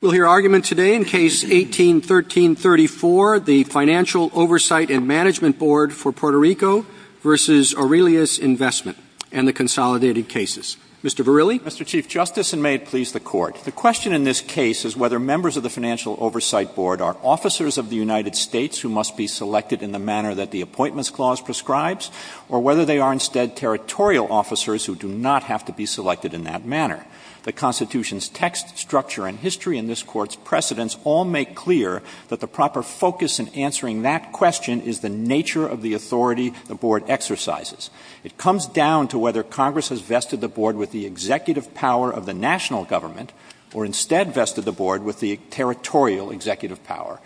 We'll hear argument today in Case 18-13-34, the Financial Oversight and Management Board for Puerto Rico v. Aurelius Investment and the Consolidated Cases. Mr. Verrilli? Mr. Chief Justice, and may it please the Court, the question in this case is whether members of the Financial Oversight Board are officers of the United States who must be selected in the manner that the Appointments Clause prescribes, or whether they are instead territorial officers who do not have to be selected in that manner. The Constitution's text, structure, and history in this Court's precedents all make clear that the proper focus in answering that question is the nature of the authority the Board exercises. It comes down to whether Congress has vested the Board with the executive power of the national government, or instead vested the Board with the territorial executive power.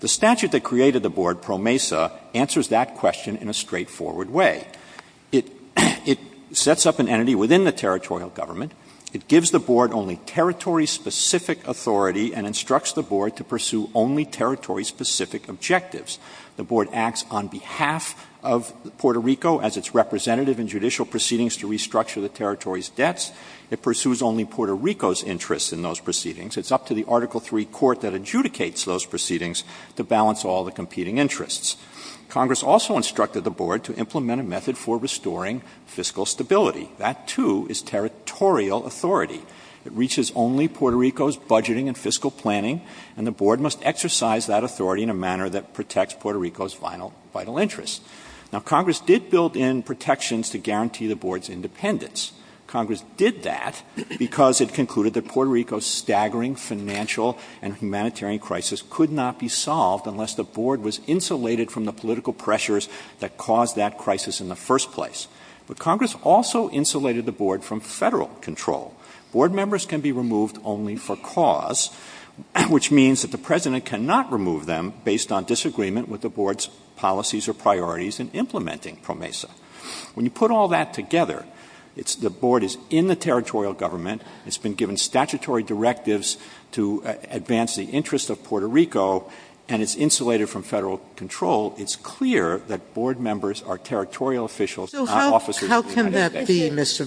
The statute that created the Board, Pro Mesa, answers that question in a straightforward way. It sets up an entity within the territorial government. It gives the Board only territory-specific authority and instructs the Board to pursue only territory-specific objectives. The Board acts on behalf of Puerto Rico as its representative in judicial proceedings to restructure the territory's debts. It pursues only Puerto Rico's interest in those proceedings. It's up to the Article III Court that adjudicates those proceedings to balance all the competing interests. Congress also instructed the Board to implement a method for restoring fiscal stability. That, too, is territorial authority. It reaches only Puerto Rico's budgeting and fiscal planning, and the Board must exercise that authority in a manner that protects Puerto Rico's vital interests. Now, Congress did build in protections to guarantee the Board's independence. Congress did that because it concluded that Puerto Rico's staggering financial and humanitarian crisis could not be solved unless the Board was insulated from the political pressures that caused that crisis in the first place. But Congress also insulated the Board from federal control. Board members can be removed only for cause, which means that the President cannot remove them based on disagreement with the Board's policies or priorities in implementing Pro Mesa. When you put all that together, the Board is in the territorial government. It's been given statutory directives to advance the interests of Puerto Rico, and it's insulated from federal control. It's clear that Board members are territorial officials, not officers of the United States. How can that be, Mr.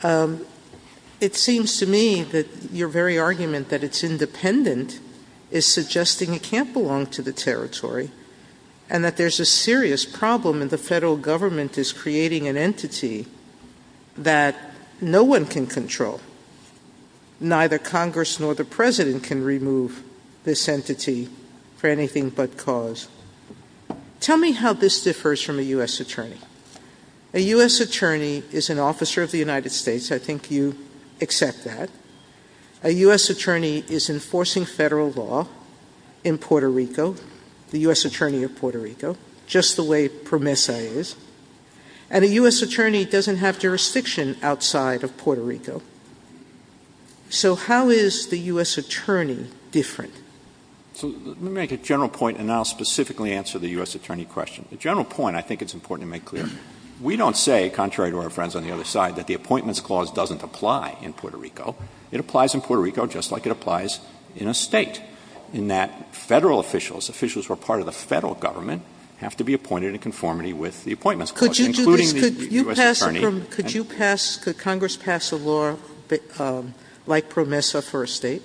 Verrilli? It seems to me that your very argument that it's independent is suggesting it can't belong to the territory, and that there's a serious problem that the federal government is creating an entity that no one can control. Neither Congress nor the President can remove this entity for anything but cause. Tell me how this differs from a U.S. attorney. A U.S. attorney is an officer of the United States. I think you accept that. A U.S. attorney is enforcing federal law in Puerto Rico, the U.S. Attorney of Puerto Rico, just the way Pro Mesa is. And a U.S. attorney doesn't have jurisdiction outside of Puerto Rico. So how is the U.S. attorney different? So let me make a general point, and I'll specifically answer the U.S. attorney question. The general point, I think it's important to make clear, we don't say, contrary to our friends on the other side, that the Appointments Clause doesn't apply in Puerto Rico. It applies in Puerto Rico just like it applies in a state, in that federal officials, they have to abide in conformity with the Appointments Clause, including the U.S. attorney. Could Congress pass a law like Pro Mesa for a state?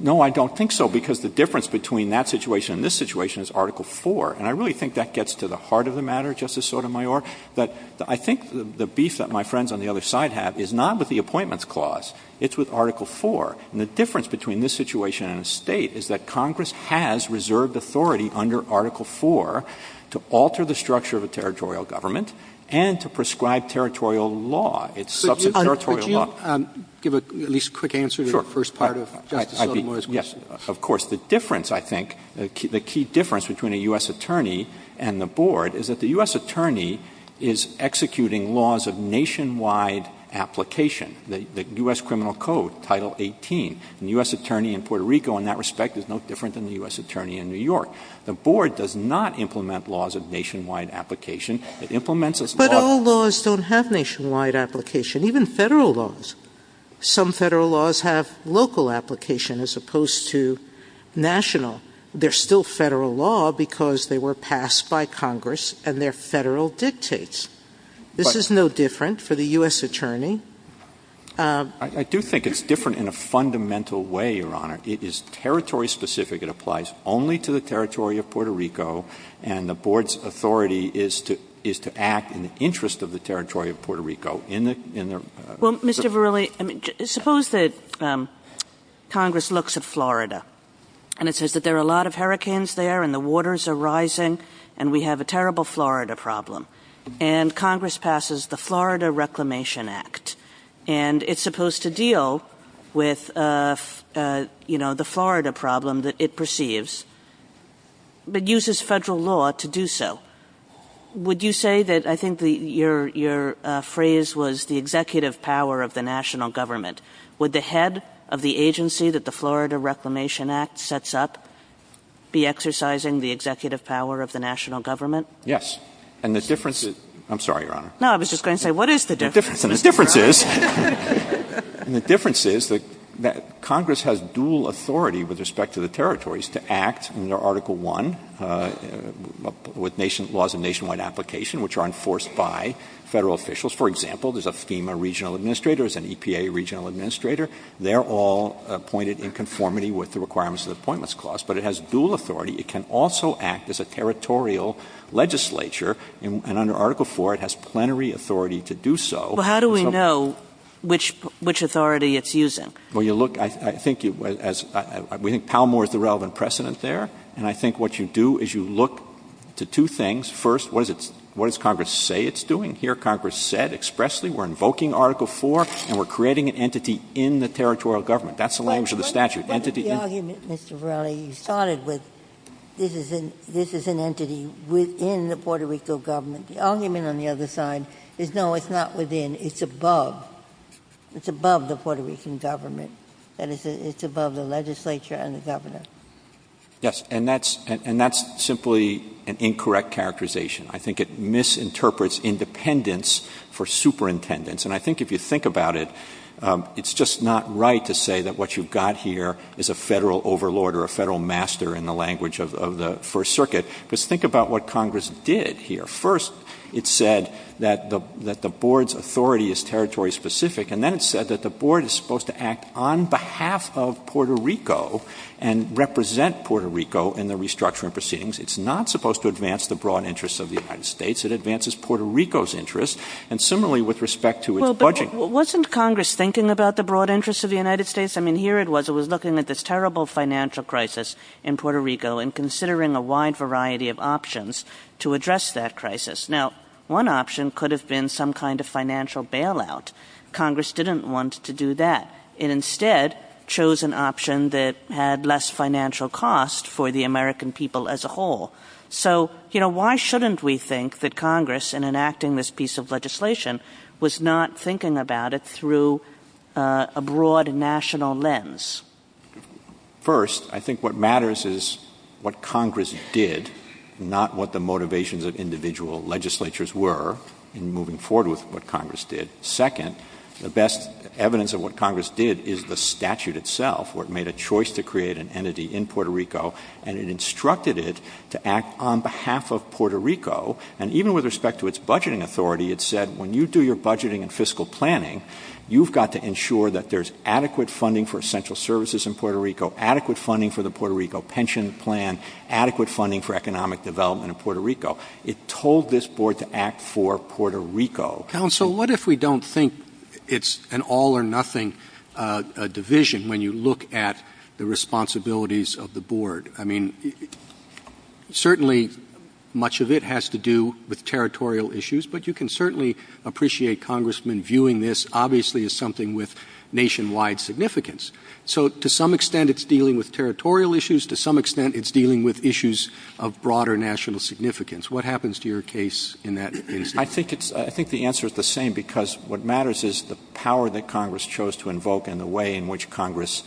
No, I don't think so, because the difference between that situation and this situation is Article 4. And I really think that gets to the heart of the matter, Justice Sotomayor. But I think the beef that my friends on the other side have is not with the Appointments Clause. It's with Article 4. And the difference between this situation and a state is that Congress has reserved authority under Article 4 to alter the structure of a territorial government and to prescribe territorial law, its substantive territorial law. Could you give at least a quick answer to the first part of Justice Sotomayor's question? Yes, of course. The difference, I think, the key difference between a U.S. attorney and the Board is that the U.S. attorney is executing laws of nationwide application, the U.S. Criminal Code, Title 18, and the U.S. attorney in Puerto Rico in that respect is no different than the U.S. attorney in New York. The Board does not implement laws of nationwide application. It implements laws... But all laws don't have nationwide application, even federal laws. Some federal laws have local application as opposed to national. They're still federal law because they were passed by Congress and they're federal dictates. This is no different for the U.S. attorney. I do think it's different in a fundamental way, Your Honor. It is territory specific. It applies only to the territory of Puerto Rico, and the Board's authority is to act in the interest of the territory of Puerto Rico in their... Well, Mr. Verrilli, suppose that Congress looks at Florida and it says that there are a lot of hurricanes there and the waters are rising and we have a terrible Florida problem, and Congress passes the Florida Reclamation Act, and it's supposed to deal with the Florida problem that it perceives, but uses federal law to do so. Would you say that... I think your phrase was the executive power of the national government. Would the head of the agency that the Florida Reclamation Act sets up be exercising the executive power of the national government? Yes. And the difference is... I'm sorry, Your Honor. No, I was just going to say, what is the difference? And the difference is that Congress has dual authority with respect to the territories to act under Article I with laws of nationwide application, which are enforced by federal officials. For example, there's a FEMA regional administrator, there's an EPA regional administrator. They're all appointed in conformity with the requirements of the Appointments Clause, but it has dual authority. It can also act as a territorial legislature, and under Article IV it has plenary authority to do so. Well, how do we know which authority it's using? Well, you look, I think it was, we think Palmore is the relevant precedent there, and I think what you do is you look to two things. First, what does Congress say it's doing? Here, Congress said expressly, we're invoking Article IV, and we're creating an entity in the territorial government. That's the language of the statute. Entity in... The argument, Mr. Verrilli, you started with, this is an entity within the Puerto Rico government. The argument on the other side is, no, it's not within, it's above. It's above the Puerto Rican government, and it's above the legislature and the government. Yes, and that's simply an incorrect characterization. I think it misinterprets independence for superintendents, and I think if you think about it, it's just not right to say that what you've got here is a federal overlord or a federal master in the language of the First Circuit, because think about what Congress did here. First, it said that the board's authority is territory-specific, and then it said that the board is supposed to act on behalf of Puerto Rico and represent Puerto Rico in the restructuring proceedings. It's not supposed to advance the broad interests of the United States. It advances Puerto Rico's interests, and similarly with respect to its budget. Well, but wasn't Congress thinking about the broad interests of the United States? I mean, here it was. It was looking at this terrible financial crisis in Puerto Rico and considering a wide variety of options to address that crisis. Now, one option could have been some kind of financial bailout. Congress didn't want to do that. It instead chose an option that had less financial cost for the American people as a whole. So, you know, why shouldn't we think that Congress, in enacting this piece of legislation, was not thinking about it through a broad national lens? First, I think what matters is what Congress did, not what the motivations of individual legislatures were in moving forward with what Congress did. Second, the best evidence of what Congress did is the statute itself, where it made a choice to create an entity in Puerto Rico, and it instructed it to act on behalf of Puerto Rico. And even with respect to its budgeting authority, it said, when you do your budgeting and fiscal planning, you've got to ensure that there's adequate funding for essential services in Puerto Rico, adequate funding for the Puerto Rico pension plan, adequate funding for economic development in Puerto Rico. It told this board to act for Puerto Rico. And so what if we don't think it's an all-or-nothing division when you look at the responsibilities of the board? I mean, certainly much of it has to do with territorial issues, but you can certainly appreciate congressmen viewing this, obviously, as something with nationwide significance. So to some extent, it's dealing with territorial issues. To some extent, it's dealing with issues of broader national significance. What happens to your case in that? I think the answer is the same, because what matters is the power that Congress chose to invoke and the way in which Congress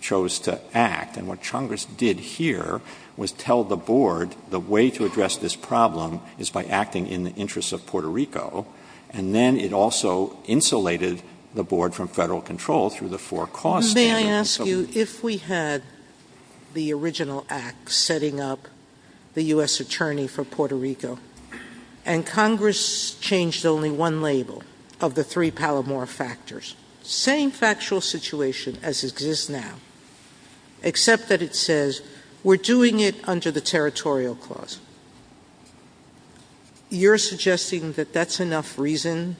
chose to act. And what Congress did here was tell the board the way to address this problem is by acting in the interests of Puerto Rico, and then it also insulated the board from federal control through the four costs. May I ask you, if we had the original act setting up the U.S. attorney for Puerto Rico and Congress changed only one label of the three Palomar factors, same factual situation as it is now, except that it says, we're doing it under the territorial clause. You're suggesting that that's enough reason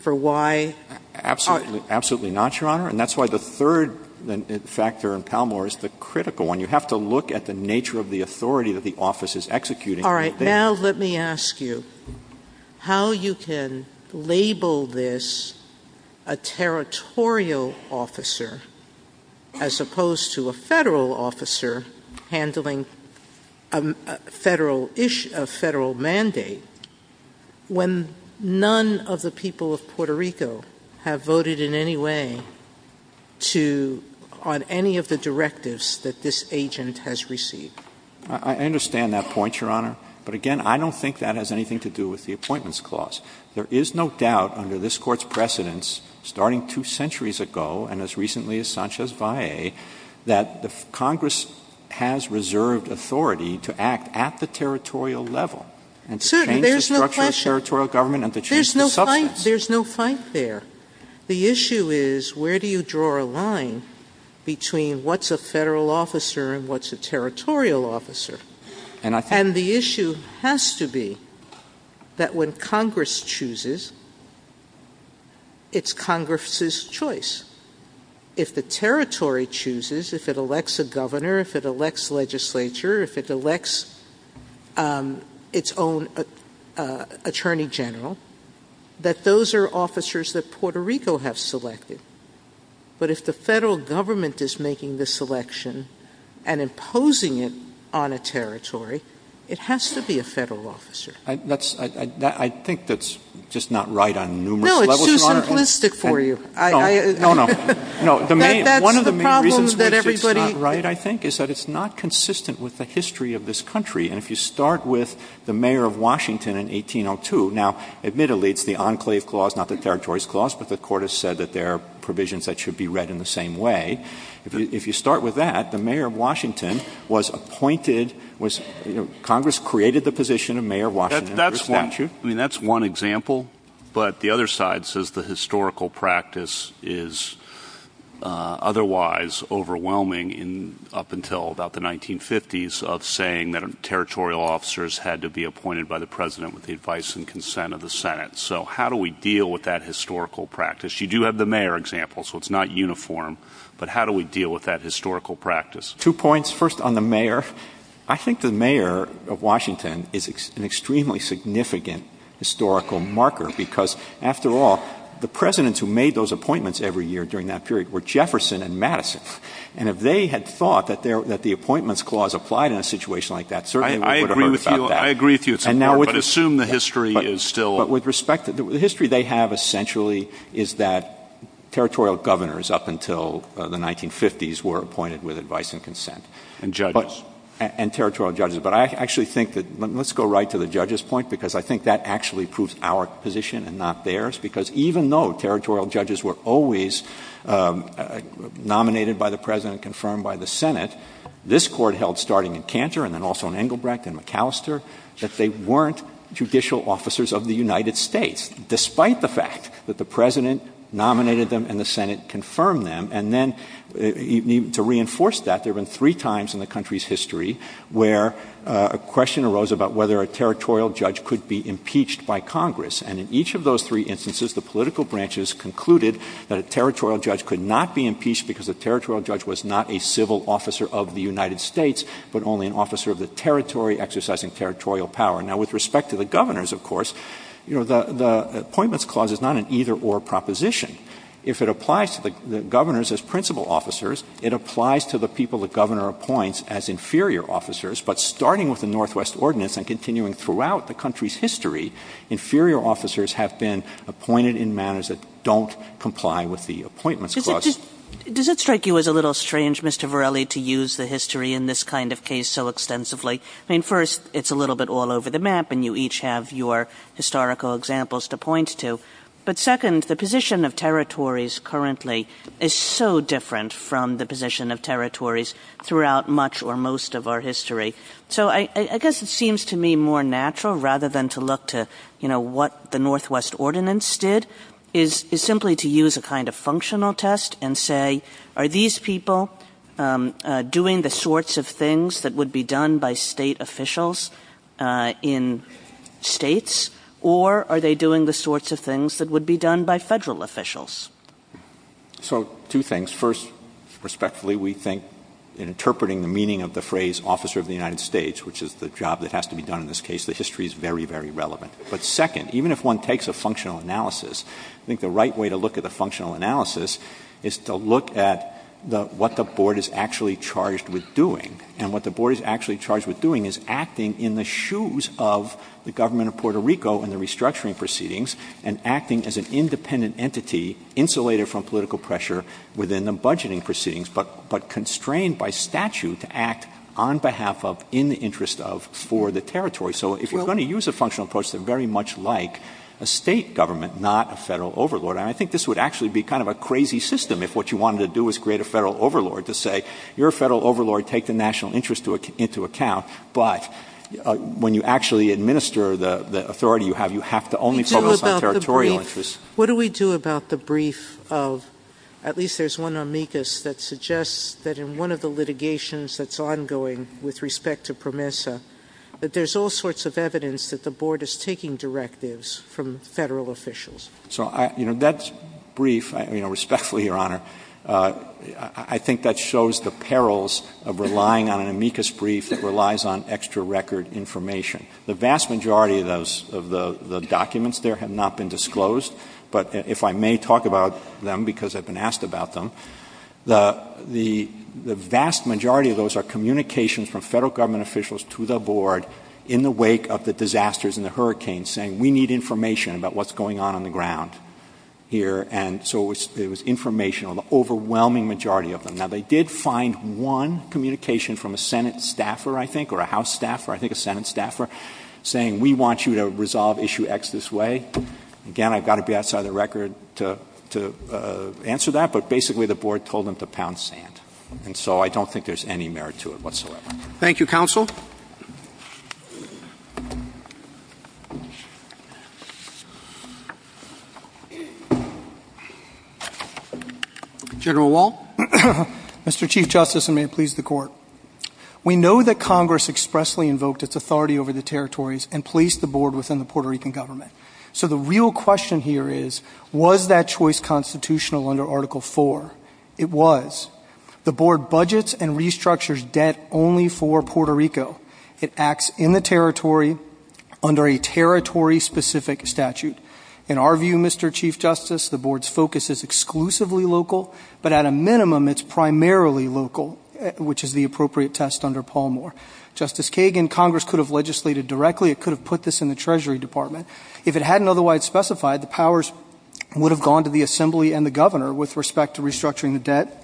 for why? Absolutely not, Your Honor. And that's why the third factor in Palomar is the critical one. You have to look at the nature of the authority that the office is executing. All right, now let me ask you, how you can label this a territorial officer as opposed to a federal officer handling a federal mandate when none of the people of Puerto Rico have voted in any way on any of the directives that this agent has received? I understand that point, Your Honor. But again, I don't think that has anything to do with the appointments clause. There is no doubt under this court's precedence, starting two centuries ago and as recently as Sanchez-Bae, that Congress has reserved authority to act at the territorial level and to change the structure of territorial government and to change the substance. There's no point there. The issue is, where do you draw a line between what's a federal officer and what's a territorial officer? And the issue has to be that when Congress chooses, it's Congress's choice. If the territory chooses, if it elects a governor, if it elects legislature, if it elects its own attorney general, that those are officers that Puerto Rico has selected. But if the federal government is making the selection and imposing it on a territory, it has to be a federal officer. I think that's just not right on numerous levels, Your Honor. No, it's too simplistic for you. No, no. No, one of the main reasons why it's just not right, I think, is that it's not consistent with the history of this country. And if you start with the mayor of Washington in 1802, now, admittedly, it's the enclave clause, not the territories clause, but the court has said that there are provisions that should be read in the same way. If you start with that, the mayor of Washington was appointed, Congress created the position of mayor of Washington under a statute. I mean, that's one example. But the other side says the historical practice is otherwise overwhelming up until about the 1950s of saying that territorial officers had to be appointed by the president with the advice and consent of the Senate. So how do we deal with that historical practice? You do have the mayor example, so it's not uniform. But how do we deal with that historical practice? Two points. First, on the mayor, I think the mayor of Washington is an extremely significant historical marker because, after all, the presidents who made those appointments every year during that period were Jefferson and Madison. And if they had thought that the appointments clause applied in a situation like that, certainly we would have heard about that. I agree with you. But assume the history is still... But with respect to the history they have, essentially, is that territorial governors up until the 1950s were appointed with advice and consent. And judges. And territorial judges. But I actually think that... Let's go right to the judge's point because I think that actually proves our position and not theirs. Because even though territorial judges were always nominated by the president, confirmed by the Senate, this court held, starting in Cantor and then also in Engelbrecht and Macalester, that they weren't judicial officers of the United States, despite the fact that the president nominated them and the Senate confirmed them. And then, to reinforce that, there have been three times in the country's history where a question arose about whether a territorial judge could be impeached by Congress. And in each of those three instances, the political branches concluded that a territorial judge could not be impeached because the territorial judge was not a civil officer of the United States, but only an officer of the territory exercising territorial power. With respect to the governors, of course, the Appointments Clause is not an either-or proposition. If it applies to the governors as principal officers, it applies to the people the governor appoints as inferior officers. But starting with the Northwest Ordinance and continuing throughout the country's history, inferior officers have been appointed in manners that don't comply with the Appointments Clause. Does it strike you as a little strange, Mr. Varelli, to use the history in this kind of case so extensively? I mean, first, it's a little bit all over the map and you each have your historical examples to point to. But second, the position of territories currently is so different from the position of territories throughout much or most of our history. So I guess it seems to me more natural, rather than to look to, you know, what the Northwest Ordinance did, is simply to use a kind of functional test and say, are these people doing the sorts of things that would be done by state officials in states, or are they doing the sorts of things that would be done by federal officials? So two things. First, respectfully, we think in interpreting the meaning of the phrase officer of the United States, which is the job that has to be done in this case, the history is very, very relevant. But second, even if one takes a functional analysis, I think the right way to look at the functional analysis is to look at what the board is actually charged with doing. And what the board is actually charged with doing is acting in the shoes of the government of Puerto Rico and the restructuring proceedings, and acting as an independent entity, insulated from political pressure within the budgeting proceedings, but constrained by statute to act on behalf of, in the interest of, for the territory. So if we're going to use a functional approach that's very much like a state government, not a federal overlord, and I think this would actually be kind of a crazy system, if what you wanted to do was create a federal overlord to say, you're a federal overlord, take the national interest into account. But when you actually administer the authority you have, you have to only focus on territorial interests. What do we do about the brief of, at least there's one amicus that suggests that in one of the litigations that's ongoing with respect to PROMESA, that there's all sorts of evidence that the board is taking directives from federal officials? So, you know, that brief, you know, respectfully, Your Honor, I think that shows the perils of relying on an amicus brief that relies on extra record information. The vast majority of those, of the documents there, have not been disclosed. But if I may talk about them, because I've been asked about them, the vast majority of those are communications from federal government officials to the board in the wake of the disasters and the hurricanes saying, we need information about what's going on on the ground here. And so it was informational, the overwhelming majority of them. Now, they did find one communication from a Senate staffer, I think, or a House staffer, I think a Senate staffer, saying, we want you to resolve issue X this way. Again, I've got to be outside of the record to answer that. But basically, the board told them to pound sand. And so I don't think there's any merit to it whatsoever. Thank you, counsel. General Wall. Mr. Chief Justice, and may it please the Court. We know that Congress expressly invoked its authority over the territories and placed the board within the Puerto Rican government. So the real question here is, was that choice constitutional under Article 4? It was. The board budgets and restructures debt only for Puerto Rico. It acts in the territory under a territory-specific statute. In our view, Mr. Chief Justice, the board's focus is exclusively local. But at a minimum, it's primarily local, which is the appropriate test under Paul Moore. Justice Kagan, Congress could have legislated directly. It could have put this in the Treasury Department. If it hadn't otherwise specified, the powers would have gone to the assembly and the governor with respect to restructuring the debt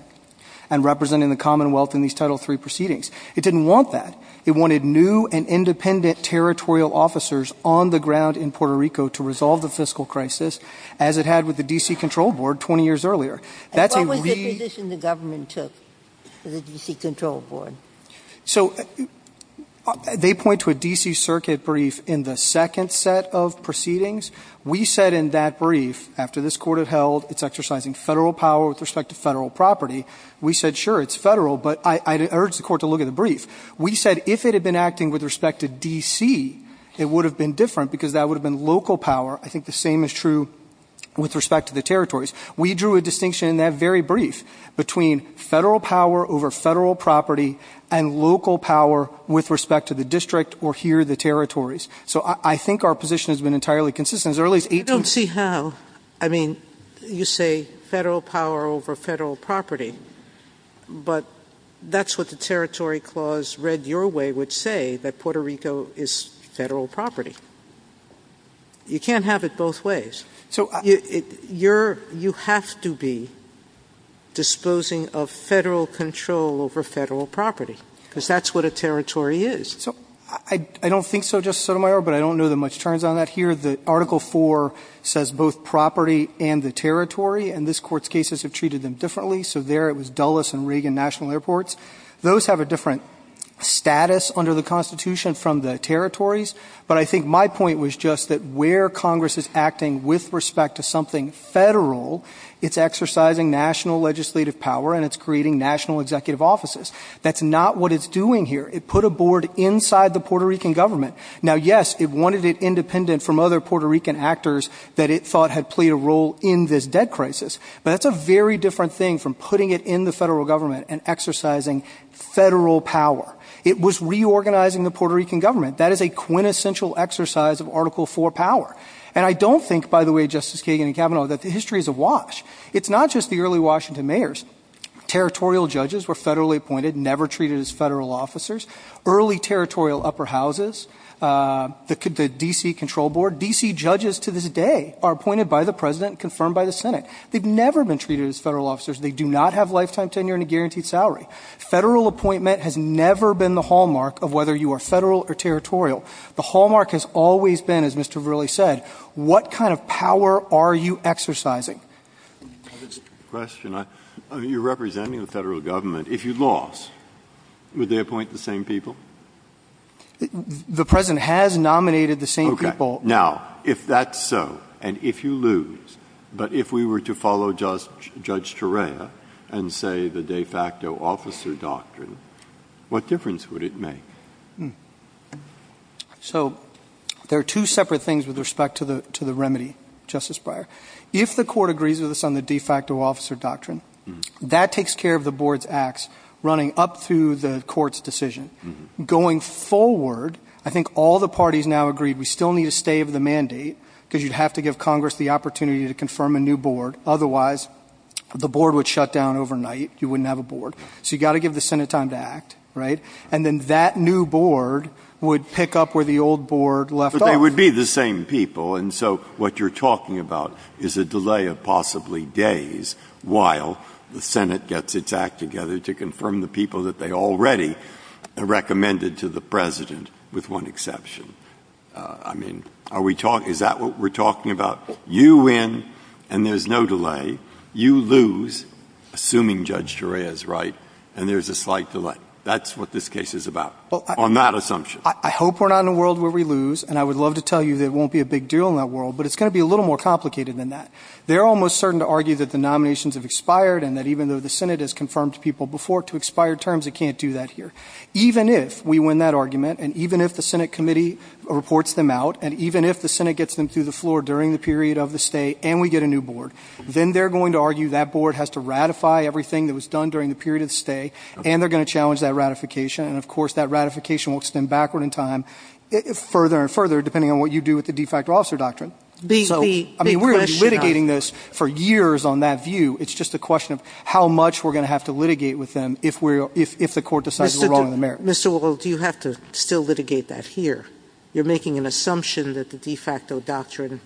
and representing the Commonwealth in these Title III proceedings. It didn't want that. It wanted new and independent territorial officers on the ground in Puerto Rico to resolve the fiscal crisis as it had with the D.C. Control Board 20 years earlier. And what was the position the government took to the D.C. Control Board? So they point to a D.C. Circuit brief in the second set of proceedings. We said in that brief, after this court had held it's exercising federal power with respect to federal property, we said, sure, it's federal. But I urge the court to look at the brief. We said if it had been acting with respect to D.C., it would have been different because that would have been local power. I think the same is true with respect to the territories. We drew a distinction in that very brief between federal power over federal property and local power with respect to the district or here the territories. So I think our position has been entirely consistent. As early as 18- You don't see how. I mean, you say federal power over federal property, but that's what the territory clause read your way would say, that Puerto Rico is federal property. You can't have it both ways. So you have to be disposing of federal control over federal property because that's what a territory is. So I don't think so, Justice Sotomayor, but I don't know that much turns on that here. The Article 4 says both property and the territory, and this court's cases have treated them differently. So there it was Dulles and Reagan National Airports. Those have a different status under the Constitution from the territories. But I think my point was just that where Congress is acting with respect to something federal, it's exercising national legislative power and it's creating national executive offices. That's not what it's doing here. It put a board inside the Puerto Rican government. Now, yes, it wanted it independent from other Puerto Rican actors that it thought had played a role in this debt crisis. But that's a very different thing from putting it in the federal government and exercising federal power. It was reorganizing the Puerto Rican government. That is a quintessential exercise of Article 4 power. And I don't think, by the way, Justice Kagan and Kavanaugh, that the history is awash. It's not just the early Washington mayors. Territorial judges were federally appointed, never treated as federal officers. Early territorial upper houses, the D.C. control board. D.C. judges to this day are appointed by the president and confirmed by the Senate. They've never been treated as federal officers. They do not have lifetime tenure and a guaranteed salary. Federal appointment has never been the hallmark of whether you are federal or territorial. The hallmark has always been, as Mr. Verrilli said, what kind of power are you exercising? VERRILLI, JR.: That's a good question. I mean, you're representing the federal government. If you lost, would they appoint the same people? MR. CLEMENT, JR.: The president has nominated the same people. MR. VERRILLI, JR.: Okay. Now, if that's so, and if you lose, but if we were to follow Judge Terea and say the de facto officer doctrine, what difference would it make? CLEMENT, JR.: So there are two separate things with respect to the remedy, Justice Breyer. If the court agrees with us on the de facto officer doctrine, that takes care of the board's acts running up through the court's decision. Going forward, I think all the parties now agree we still need to stay with the mandate because you'd have to give Congress the opportunity to confirm a new board. Otherwise, the board would shut down overnight. You wouldn't have a board. So you've got to give the Senate time to act, right? And then that new board would pick up where the old board left off. MR. CLEMENT, JR.: But they would be the same people. And so what you're talking about is a delay of possibly days while the Senate gets its act together to confirm the people that they already recommended to the president, with one exception. I mean, is that what we're talking about? You win, and there's no delay. You lose, assuming Judge Shara is right, and there's a slight delay. That's what this case is about, on that assumption. MR. CLEMENT, JR.: I hope we're not in a world where we lose. And I would love to tell you that it won't be a big deal in that world. But it's going to be a little more complicated than that. They're almost certain to argue that the nominations have expired and that even though the Senate has confirmed people before to expire terms, it can't do that here. Even if we win that argument, and even if the Senate committee reports them out, and and we get a new board, then they're going to argue that board has to ratify everything that was done during the period of the stay, and they're going to challenge that ratification. And of course, that ratification will extend backward in time, further and further, depending on what you do with the de facto officer doctrine. So, I mean, we're going to be litigating this for years on that view. It's just a question of how much we're going to have to litigate with them if we're – if the court decides we're wrong on the merits. MR. SOTOMAYOR, JR.: Mr. Will, do you have to still litigate that here? You're making an assumption that the de facto doctrine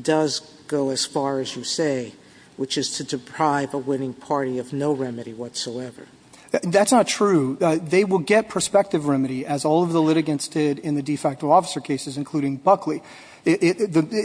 does go as far as we say, which is to deprive a winning party of no remedy whatsoever. WILLIAMS, JR.: That's not true. They will get prospective remedy, as all of the litigants did in the de facto officer cases, including Buckley.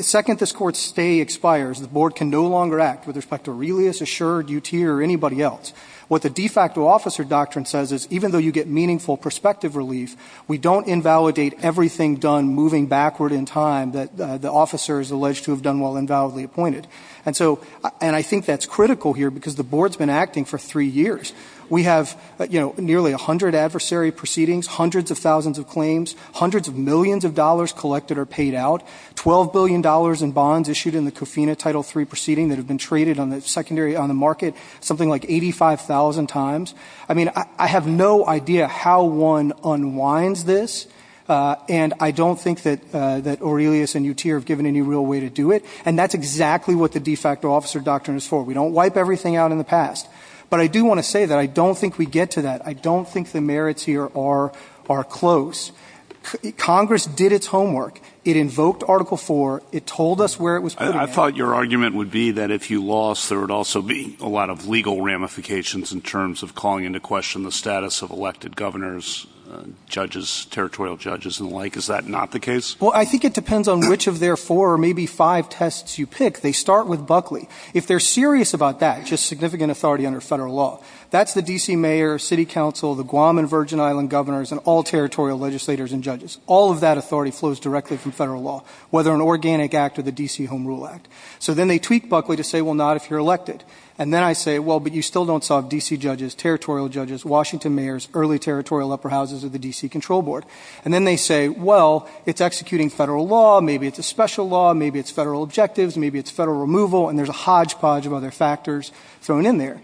Second, this court's stay expires. The board can no longer act with respect to Aurelius, Assured, UTI, or anybody else. What the de facto officer doctrine says is even though you get meaningful prospective relief, we don't invalidate everything done moving backward in time that the officer is alleged to have done while invalidly appointed. And so – and I think that's critical here because the board's been acting for three years. We have, you know, nearly 100 adversary proceedings, hundreds of thousands of claims, hundreds of millions of dollars collected or paid out, $12 billion in bonds issued in the Cofina Title III proceeding that have been traded on the secondary – on the market something like 85,000 times. I mean, I have no idea how one unwinds this. And I don't think that Aurelius and UTI are given any real way to do it. And that's exactly what the de facto officer doctrine is for. We don't wipe everything out in the past. But I do want to say that I don't think we get to that. I don't think the merits here are close. Congress did its homework. It told us where it was putting it. MR. BROWN, JR.: I thought your argument would be that if you lost, there would also be a calling into question the status of elected governors, judges, territorial judges, and the like. Is that not the case? MR. BUCKLEY, JR.: Well, I think it depends on which of their four or maybe five tests you pick. They start with Buckley. If they're serious about that, just significant authority under federal law, that's the D.C. mayor, city council, the Guam and Virgin Islands governors, and all territorial legislators and judges. All of that authority flows directly from federal law, whether an organic act or the D.C. Home Rule Act. So then they tweak Buckley to say, well, not if you're elected. And then I say, well, but you still don't solve D.C. judges, territorial judges, Washington mayors, early territorial upper houses of the D.C. control board. And then they say, well, it's executing federal law. Maybe it's a special law. Maybe it's federal objectives. Maybe it's federal removal. And there's a hodgepodge of other factors thrown in there.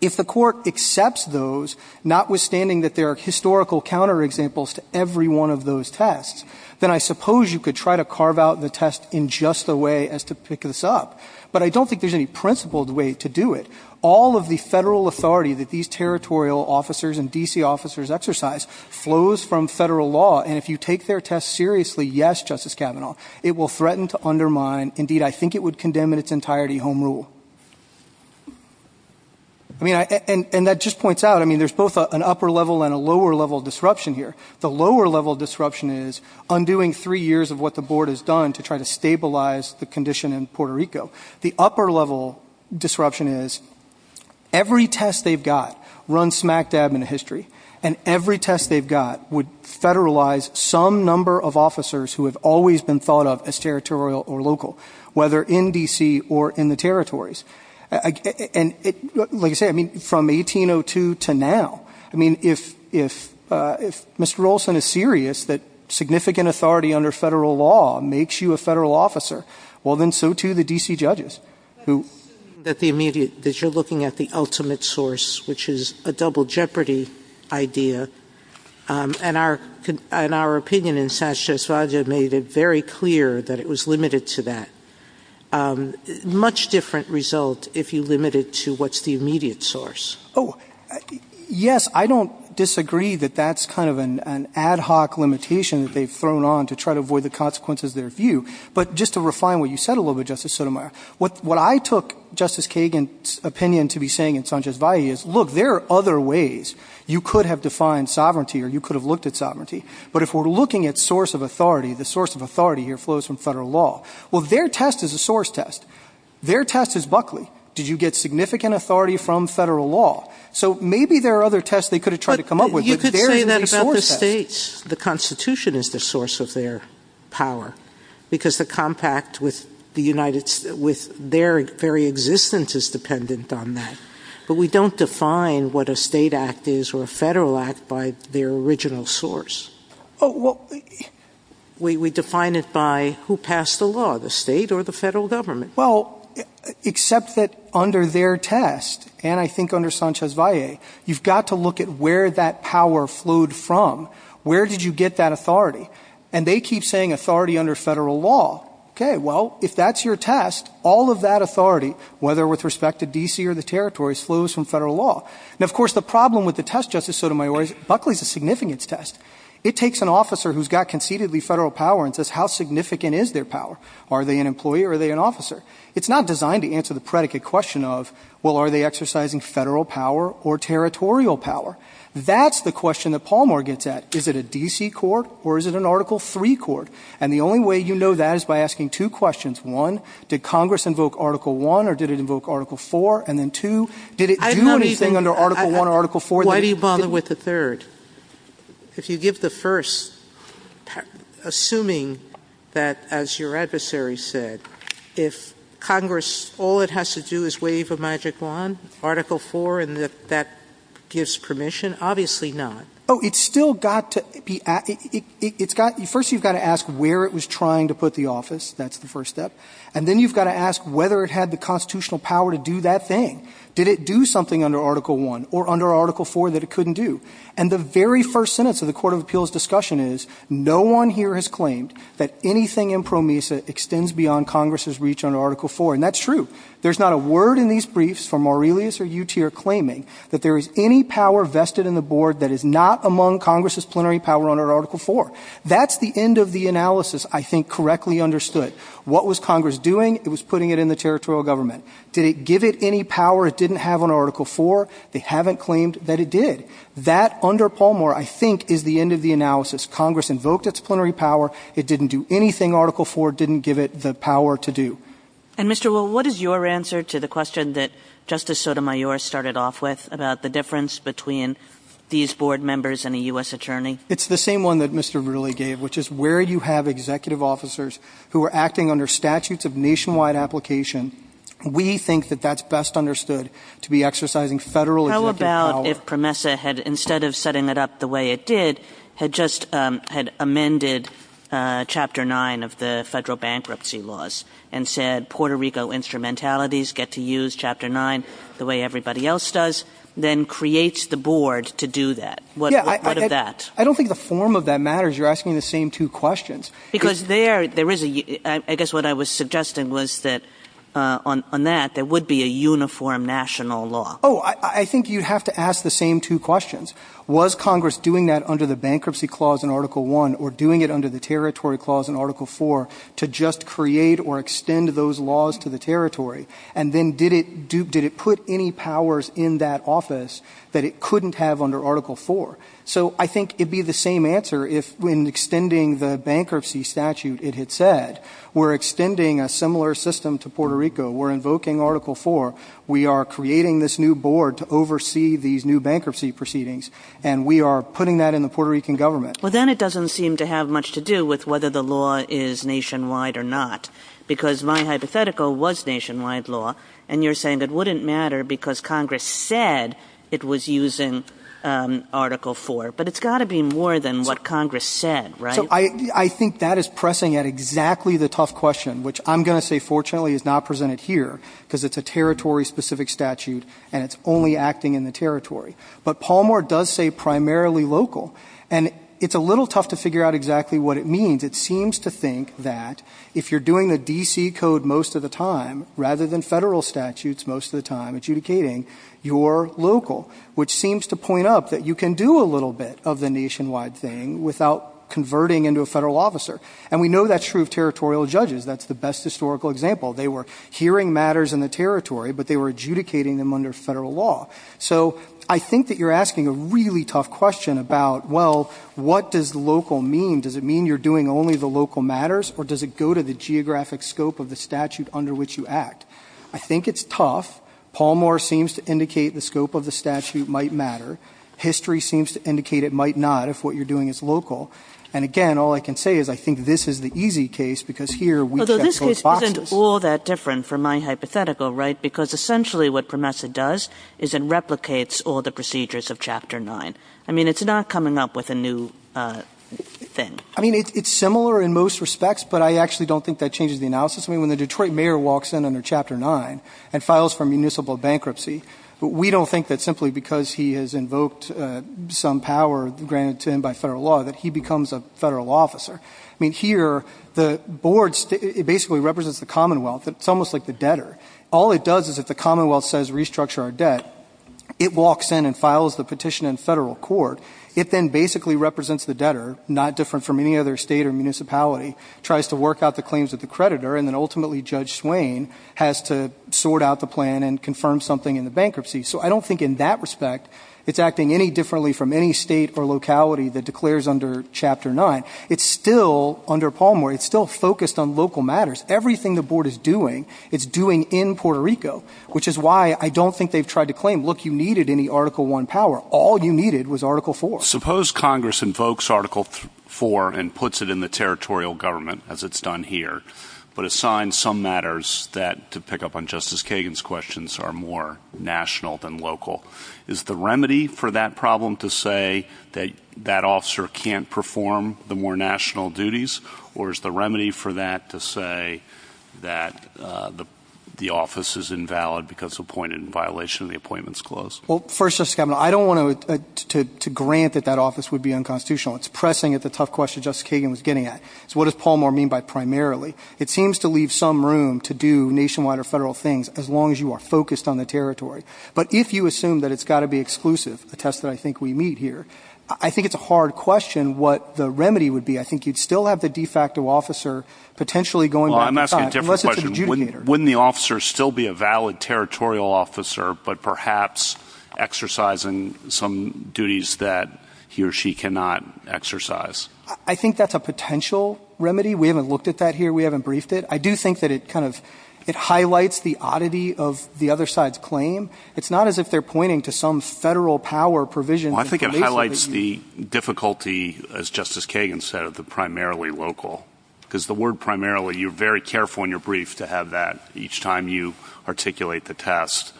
If the court accepts those, notwithstanding that there are historical counterexamples to every one of those tests, then I suppose you could try to carve out the test in just the way as to pick this up. But I don't think there's any principled way to do it. All of the federal authority that these territorial officers and D.C. officers exercise flows from federal law. And if you take their test seriously, yes, Justice Kavanaugh, it will threaten to undermine. Indeed, I think it would condemn in its entirety home rule. And that just points out, I mean, there's both an upper level and a lower level disruption here. The lower level disruption is undoing three years of what the board has done to try to The upper level disruption is every test they've got run smack dab in the history and every test they've got would federalize some number of officers who have always been thought of as territorial or local, whether in D.C. or in the territories. And like I say, I mean, from 1802 to now, I mean, if if if Mr. Olson is serious that significant authority under federal law makes you a federal officer, well, then so to the D.C. judges who at the immediate that you're looking at the ultimate source, which is a double jeopardy idea. And our and our opinion in Sanchez Raja made it very clear that it was limited to that much different result if you limit it to what's the immediate source. Oh, yes. I don't disagree that that's kind of an ad hoc limitation that they've thrown on to try to define what you said a little bit, Justice Sotomayor. What what I took Justice Kagan's opinion to be saying in Sanchez is, look, there are other ways you could have defined sovereignty or you could have looked at sovereignty. But if we're looking at source of authority, the source of authority here flows from federal law. Well, their test is a source test. Their test is Buckley. Did you get significant authority from federal law? So maybe there are other tests they could have tried to come up with. States, the Constitution is the source of their power because the compact with the United with their very existence is dependent on that. But we don't define what a state act is or a federal act by their original source. Oh, well, we define it by who passed the law, the state or the federal government. Well, except that under their test. And I think under Sanchez Valle, you've got to look at where that power flowed from. Where did you get that authority? And they keep saying authority under federal law. OK, well, if that's your test, all of that authority, whether with respect to D.C. or the territories, flows from federal law. And of course, the problem with the test, Justice Sotomayor, Buckley is a significance test. It takes an officer who's got conceitedly federal power and says how significant is their power? Are they an employee or are they an officer? It's not designed to answer the predicate question of, well, are they exercising federal power or territorial power? That's the question that Pallmore gets at. Is it a D.C. court or is it an Article 3 court? And the only way you know that is by asking two questions. One, did Congress invoke Article 1 or did it invoke Article 4? And then two, did it do anything under Article 1 or Article 4? Why do you bother with the third? If you give the first, assuming that, as your adversary said, if Congress, all it has to do is wave a magic wand, Article 4, and that that gives permission? Obviously not. Oh, it's still got to be, it's got, first you've got to ask where it was trying to put the office. That's the first step. And then you've got to ask whether it had the constitutional power to do that thing. Did it do something under Article 1 or under Article 4 that it couldn't do? And the very first sentence of the Court of Appeals discussion is, no one here has claimed that anything in PROMESA extends beyond Congress's reach under Article 4. And that's true. There's not a word in these briefs from Aurelius or Utier claiming that there is any power vested in the board that is not among Congress's plenary power under Article 4. That's the end of the analysis I think correctly understood. What was Congress doing? It was putting it in the territorial government. Did it give it any power it didn't have under Article 4? They haven't claimed that it did. That, under Palmore, I think is the end of the analysis. Congress invoked its plenary power. It didn't do anything Article 4 didn't give it the power to do. And Mr. Will, what is your answer to the question that Justice Sotomayor started off with about the difference between these board members and a U.S. attorney? It's the same one that Mr. Rooley gave, which is where you have executive officers who are acting under statutes of nationwide application, we think that that's best understood to be exercising federal executive power. Instead of setting it up the way it did, it just had amended Chapter 9 of the federal bankruptcy laws and said Puerto Rico instrumentalities get to use Chapter 9 the way everybody else does, then creates the board to do that. I don't think the form of that matters. You're asking the same two questions. I guess what I was suggesting was that on that, there would be a uniform national law. I think you'd have to ask the same two questions. Was Congress doing that under the bankruptcy clause in Article 1 or doing it under the territory clause in Article 4 to just create or extend those laws to the territory? And then did it put any powers in that office that it couldn't have under Article 4? So I think it'd be the same answer if when extending the bankruptcy statute, it had said we're extending a similar system to Puerto Rico. We're invoking Article 4. We are creating this new board to oversee these new bankruptcy proceedings, and we are putting that in the Puerto Rican government. Well, then it doesn't seem to have much to do with whether the law is nationwide or not, because my hypothetical was nationwide law, and you're saying it wouldn't matter because Congress said it was using Article 4. But it's got to be more than what Congress said, right? So I think that is pressing at exactly the tough question, which I'm going to say, unfortunately, is not presented here because it's a territory-specific statute, and it's only acting in the territory. But Palmore does say primarily local, and it's a little tough to figure out exactly what it means. It seems to think that if you're doing the D.C. code most of the time rather than federal statutes most of the time adjudicating, you're local, which seems to point up that you can do a little bit of the nationwide thing without converting into a federal officer. And we know that's true of territorial judges. That's the best historical example. They were hearing matters in the territory, but they were adjudicating them under federal law. So I think that you're asking a really tough question about, well, what does local mean? Does it mean you're doing only the local matters, or does it go to the geographic scope of the statute under which you act? I think it's tough. Palmore seems to indicate the scope of the statute might matter. History seems to indicate it might not if what you're doing is local. And again, all I can say is I think this is the easy case, because here we've got both boxes. Although this case isn't all that different from my hypothetical, right, because essentially what PROMESA does is it replicates all the procedures of Chapter 9. I mean, it's not coming up with a new thing. I mean, it's similar in most respects, but I actually don't think that changes the analysis. I mean, when the Detroit mayor walks in under Chapter 9 and files for municipal bankruptcy, we don't think that simply because he has invoked some power granted to him by federal law that he becomes a federal officer. I mean, here the board basically represents the Commonwealth. It's almost like the debtor. All it does is if the Commonwealth says restructure our debt, it walks in and files the petition in federal court. It then basically represents the debtor, not different from any other state or municipality, tries to work out the claims of the creditor, and then ultimately Judge Swain has to sort out the plan and confirm something in the bankruptcy. So I don't think in that respect it's acting any differently from any state or locality that declares under Chapter 9. It's still, under Palmore, it's still focused on local matters. Everything the board is doing, it's doing in Puerto Rico, which is why I don't think they've tried to claim, look, you needed any Article 1 power. All you needed was Article 4. Suppose Congress invokes Article 4 and puts it in the territorial government, as it's done here, but assigns some matters that, to pick up on Justice Kagan's questions, are more national than local. Is the remedy for that problem to say that that officer can't perform the more national duties, or is the remedy for that to say that the office is invalid because appointed in violation of the Appointments Clause? Well, first, Justice Kavanaugh, I don't want to grant that that office would be unconstitutional. It's pressing at the tough question Justice Kagan was getting at. So what does Palmore mean by primarily? It seems to leave some room to do nationwide or federal things, as long as you are focused on the territory. But if you assume that it's got to be exclusive, a test that I think we meet here, I think it's a hard question what the remedy would be. I think you'd still have the de facto officer potentially going back to the side, unless it's an adjudicator. I'm asking a different question. Wouldn't the officer still be a valid territorial officer, but perhaps exercising some duties that he or she cannot exercise? I think that's a potential remedy. We haven't looked at that here. We haven't briefed it. I do think that it highlights the oddity of the other side's claim. It's not as if they're pointing to some federal power provision. I think it highlights the difficulty, as Justice Kagan said, of the primarily local, because the word primarily, you're very careful in your brief to have that each time you articulate the test.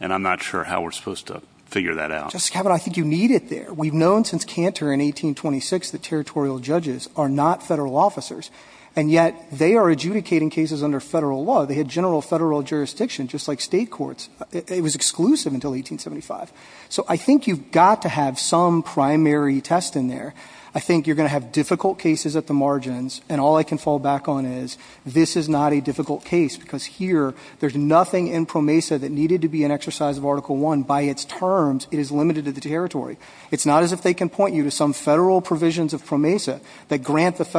And I'm not sure how we're supposed to figure that out. Justice Kavanaugh, I think you need it there. We've known since Cantor in 1826 that territorial judges are not federal officers. And yet, they are adjudicating cases under federal law. They had general federal jurisdiction, just like state courts. It was exclusive until 1875. So I think you've got to have some primary test in there. I think you're going to have difficult cases at the margins. And all I can fall back on is, this is not a difficult case, because here, there's nothing in PROMESA that needed to be an exercise of Article I. By its terms, it is limited to the territory. It's not as if they can point you to some federal provisions of PROMESA that grant the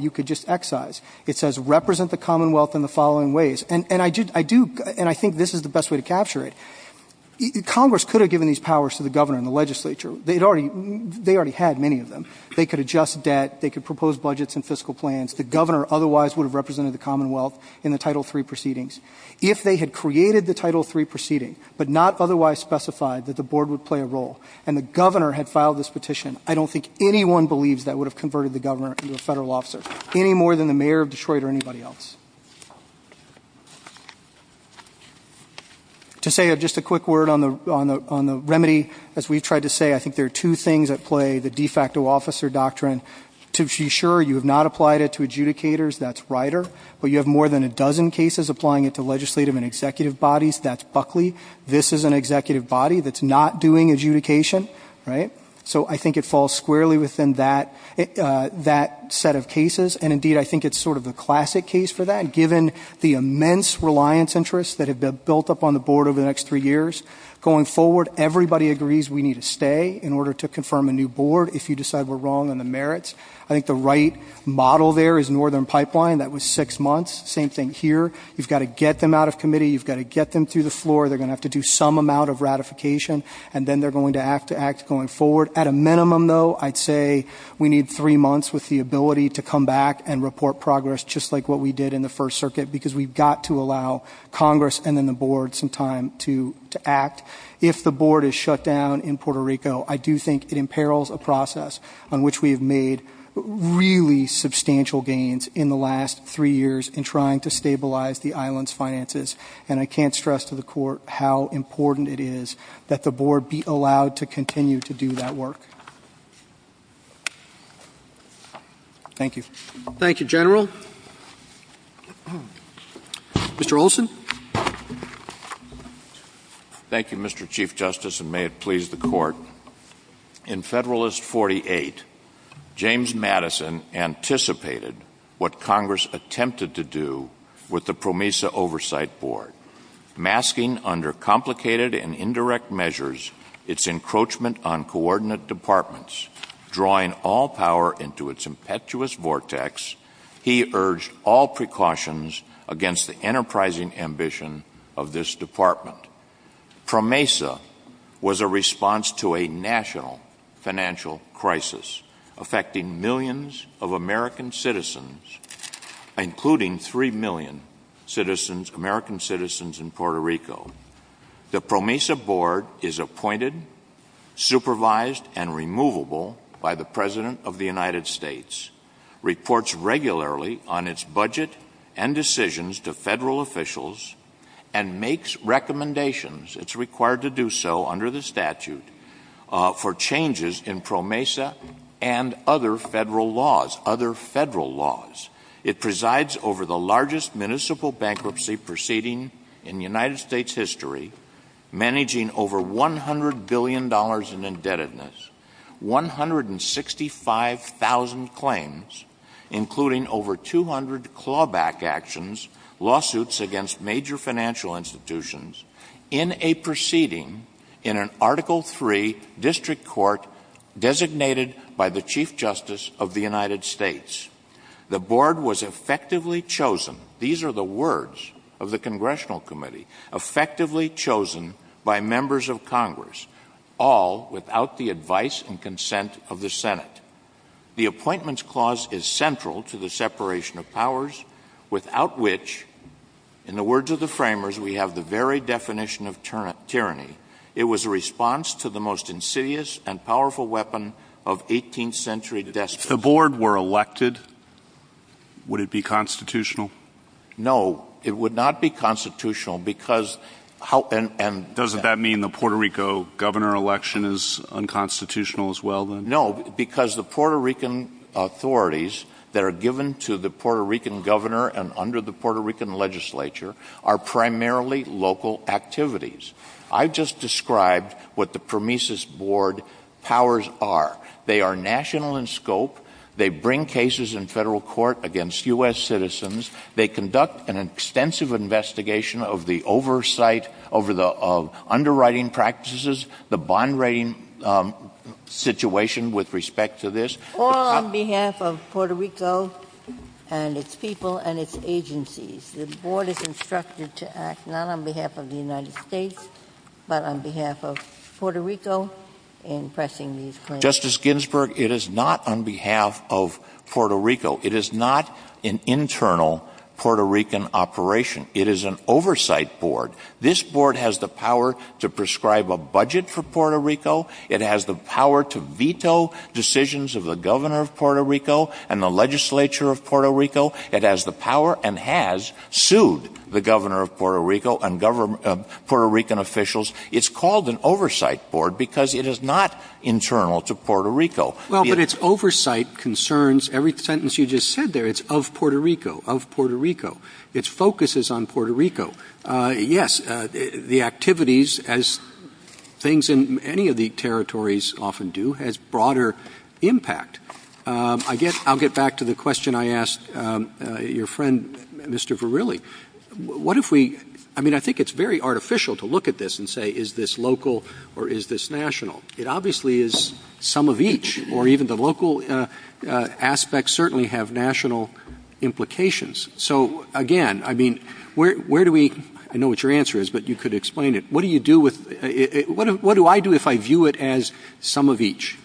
you could just excise. It says, represent the Commonwealth in the following ways. And I do, and I think this is the best way to capture it. Congress could have given these powers to the governor and the legislature. They already had many of them. They could adjust debt. They could propose budgets and fiscal plans. The governor otherwise would have represented the Commonwealth in the Title III proceedings. If they had created the Title III proceeding, but not otherwise specified that the board would play a role, and the governor had filed this petition, I don't think anyone believes that would have converted the governor into a federal officer, any more than the mayor of Detroit or anybody else. To say just a quick word on the remedy, as we tried to say, I think there are two things at play, the de facto officer doctrine. To be sure, you have not applied it to adjudicators. That's Rider. But you have more than a dozen cases applying it to legislative and executive bodies. That's Buckley. This is an executive body that's not doing adjudication, right? So I think it falls squarely within that set of cases. And indeed, I think it's sort of a classic case for that, given the immense reliance interests that have been built up on the board over the next three years. Going forward, everybody agrees we need to stay in order to confirm a new board if you decide we're wrong on the merits. I think the right model there is Northern Pipeline. That was six months. Same thing here. You've got to get them out of committee. You've got to get them through the floor. They're going to have to do some amount of ratification. And then they're going to have to act going forward. At a minimum, though, I'd say we need three months with the ability to come back and report progress just like what we did in the First Circuit, because we've got to allow Congress and then the board some time to act. If the board is shut down in Puerto Rico, I do think it imperils a process on which we have made really substantial gains in the last three years in trying to stabilize the island's finances. And I can't stress to the court how important it is that the board be allowed to continue to do that work. Thank you. Thank you, General. Mr. Olson? Thank you, Mr. Chief Justice, and may it please the court. In Federalist 48, James Madison anticipated what Congress attempted to do with the PROMESA Oversight Board. Masking, under complicated and indirect measures, its encroachment on coordinate departments, drawing all power into its impetuous vortex, he urged all precautions against the enterprising ambition of this department. PROMESA was a response to a national financial crisis affecting millions of American citizens, including three million American citizens in Puerto Rico. The PROMESA board is appointed, supervised, and removable by the President of the United States, reports regularly on its budget and decisions to federal officials, and makes recommendations, it's required to do so under the statute, for changes in PROMESA and other federal laws. It presides over the largest municipal bankruptcy proceeding in United States history, managing over $100 billion in indebtedness, 165,000 claims, including over 200 clawback actions, lawsuits against major financial institutions, in a proceeding in an Article III district court designated by the Chief Justice of the United States. The board was effectively chosen, these are the words of the Congressional Committee, effectively chosen by members of Congress, all without the advice and consent of the Senate. The appointments clause is central to the separation of powers, without which, in the words of the framers, we have the very definition of tyranny, it was a response to the most insidious and powerful weapon of 18th century despotism. If the board were elected, would it be constitutional? No, it would not be constitutional, because, how, and, and... Doesn't that mean the Puerto Rico governor election is unconstitutional as well, then? No, because the Puerto Rican authorities that are given to the Puerto Rican governor and under the Puerto Rican legislature, are primarily local activities. I just described what the PROMESIS board powers are. They are national in scope. They bring cases in federal court against U.S. citizens. They conduct an extensive investigation of the oversight, over the underwriting practices, the bond rating situation with respect to this. All on behalf of Puerto Rico and its people and its agencies, the board is instructed to act not on behalf of the United States, but on behalf of Puerto Rico in pressing these claims. Justice Ginsburg, it is not on behalf of Puerto Rico. It is not an internal Puerto Rican operation. It is an oversight board. This board has the power to prescribe a budget for Puerto Rico. It has the power to veto decisions of the governor of Puerto Rico and the legislature of Puerto Rico. It has the power and has sued the governor of Puerto Rico and Puerto Rican officials. It's called an oversight board because it is not internal to Puerto Rico. Well, but it's oversight concerns, every sentence you just said there, it's of Puerto Rico, of Puerto Rico. Its focus is on Puerto Rico. Yes, the activities, as things in any of the territories often do, has broader impact. I'll get back to the question I asked your friend, Mr. Verrilli. What if we, I mean, I think it's very artificial to look at this and say, is this local or is this national? It obviously is some of each, or even the local aspects certainly have national implications. So again, I mean, where do we, I know what your answer is, but you could explain it. What do you do with, what do I do if I view it as some of each?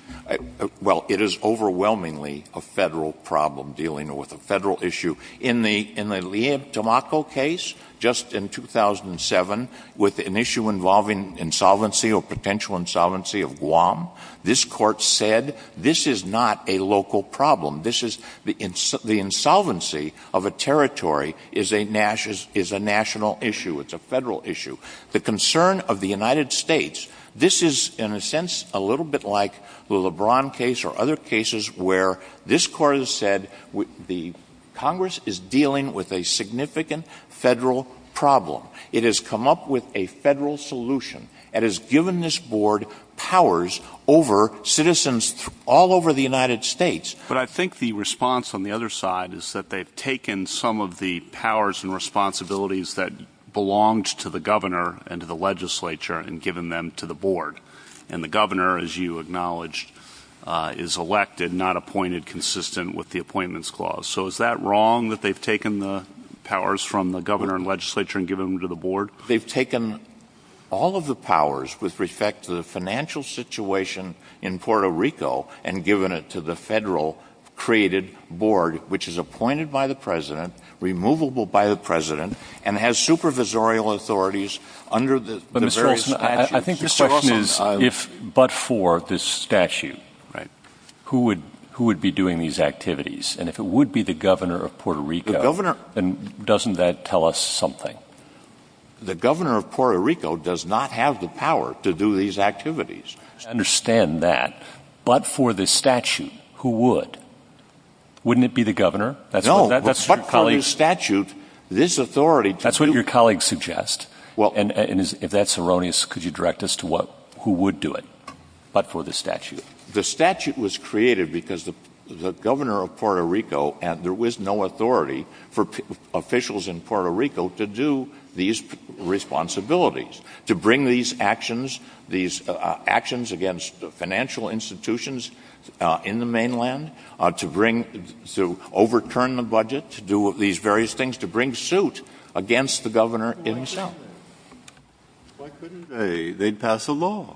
Well, it is overwhelmingly a federal problem dealing with a federal issue. In the Lea de Tamaco case, just in 2007, with an issue involving insolvency or potential insolvency of Guam, this court said, this is not a local problem. This is, the insolvency of a territory is a national issue, it's a federal issue. The concern of the United States, this is, in a sense, a little bit like the LeBron case or other cases where this court has said the Congress is dealing with a significant federal problem. It has come up with a federal solution. It has given this board powers over citizens all over the United States. But I think the response on the other side is that they've taken some of the powers and given them to the governor and to the legislature and given them to the board. And the governor, as you acknowledged, is elected, not appointed consistent with the appointments clause. So is that wrong that they've taken the powers from the governor and legislature and given them to the board? They've taken all of the powers with respect to the financial situation in Puerto Rico and given it to the federal created board, which is appointed by the president, removable by the president, and has supervisorial authorities under the various statutes. I think the question is, but for this statute, who would be doing these activities? And if it would be the governor of Puerto Rico, doesn't that tell us something? The governor of Puerto Rico does not have the power to do these activities. Understand that. But for the statute, who would? Wouldn't it be the governor? No, but for the statute, this authority... That's what your colleagues suggest. And if that's erroneous, could you direct us to who would do it, but for the statute? The statute was created because the governor of Puerto Rico, there was no authority for officials in Puerto Rico to do these responsibilities, to bring these actions, these actions against the financial institutions in the mainland, to bring, to overturn the budget, to do these various things, to bring suit against the governor in himself. Why couldn't they? They'd pass a law,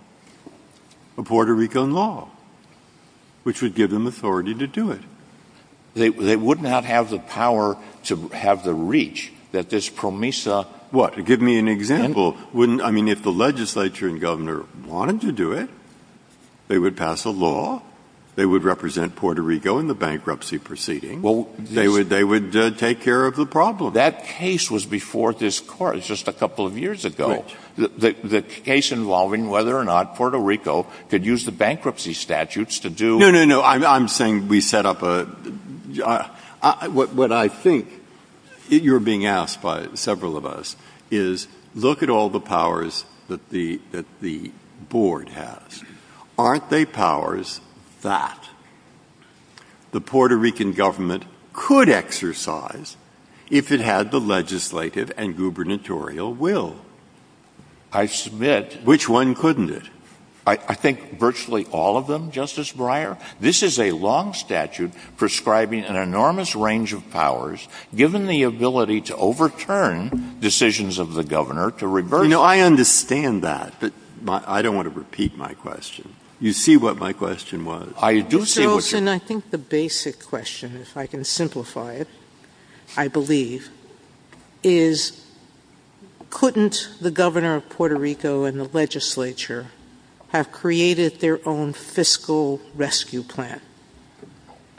a Puerto Rican law, which would give them authority to do it. They would not have the power to have the reach that this PROMESA... What? Give me an example. I mean, if the legislature and governor wanted to do it, they would pass a law. They would represent Puerto Rico in the bankruptcy proceeding. They would take care of the problem. That case was before this court just a couple of years ago. The case involving whether or not Puerto Rico could use the bankruptcy statutes to do... No, no, no. I'm saying we set up a... What I think you're being asked by several of us is look at all the powers that the board has. Aren't they powers that the Puerto Rican government could exercise if it had the legislative and gubernatorial will? I submit, which one couldn't it? I think virtually all of them, Justice Breyer. This is a long statute prescribing an enormous range of powers, given the ability to overturn decisions of the governor to reverse... I understand that, but I don't want to repeat my question. You see what my question was. I do see what your... Mr. Olsen, I think the basic question, if I can simplify it, I believe, is couldn't the governor of Puerto Rico and the legislature have created their own fiscal rescue plan?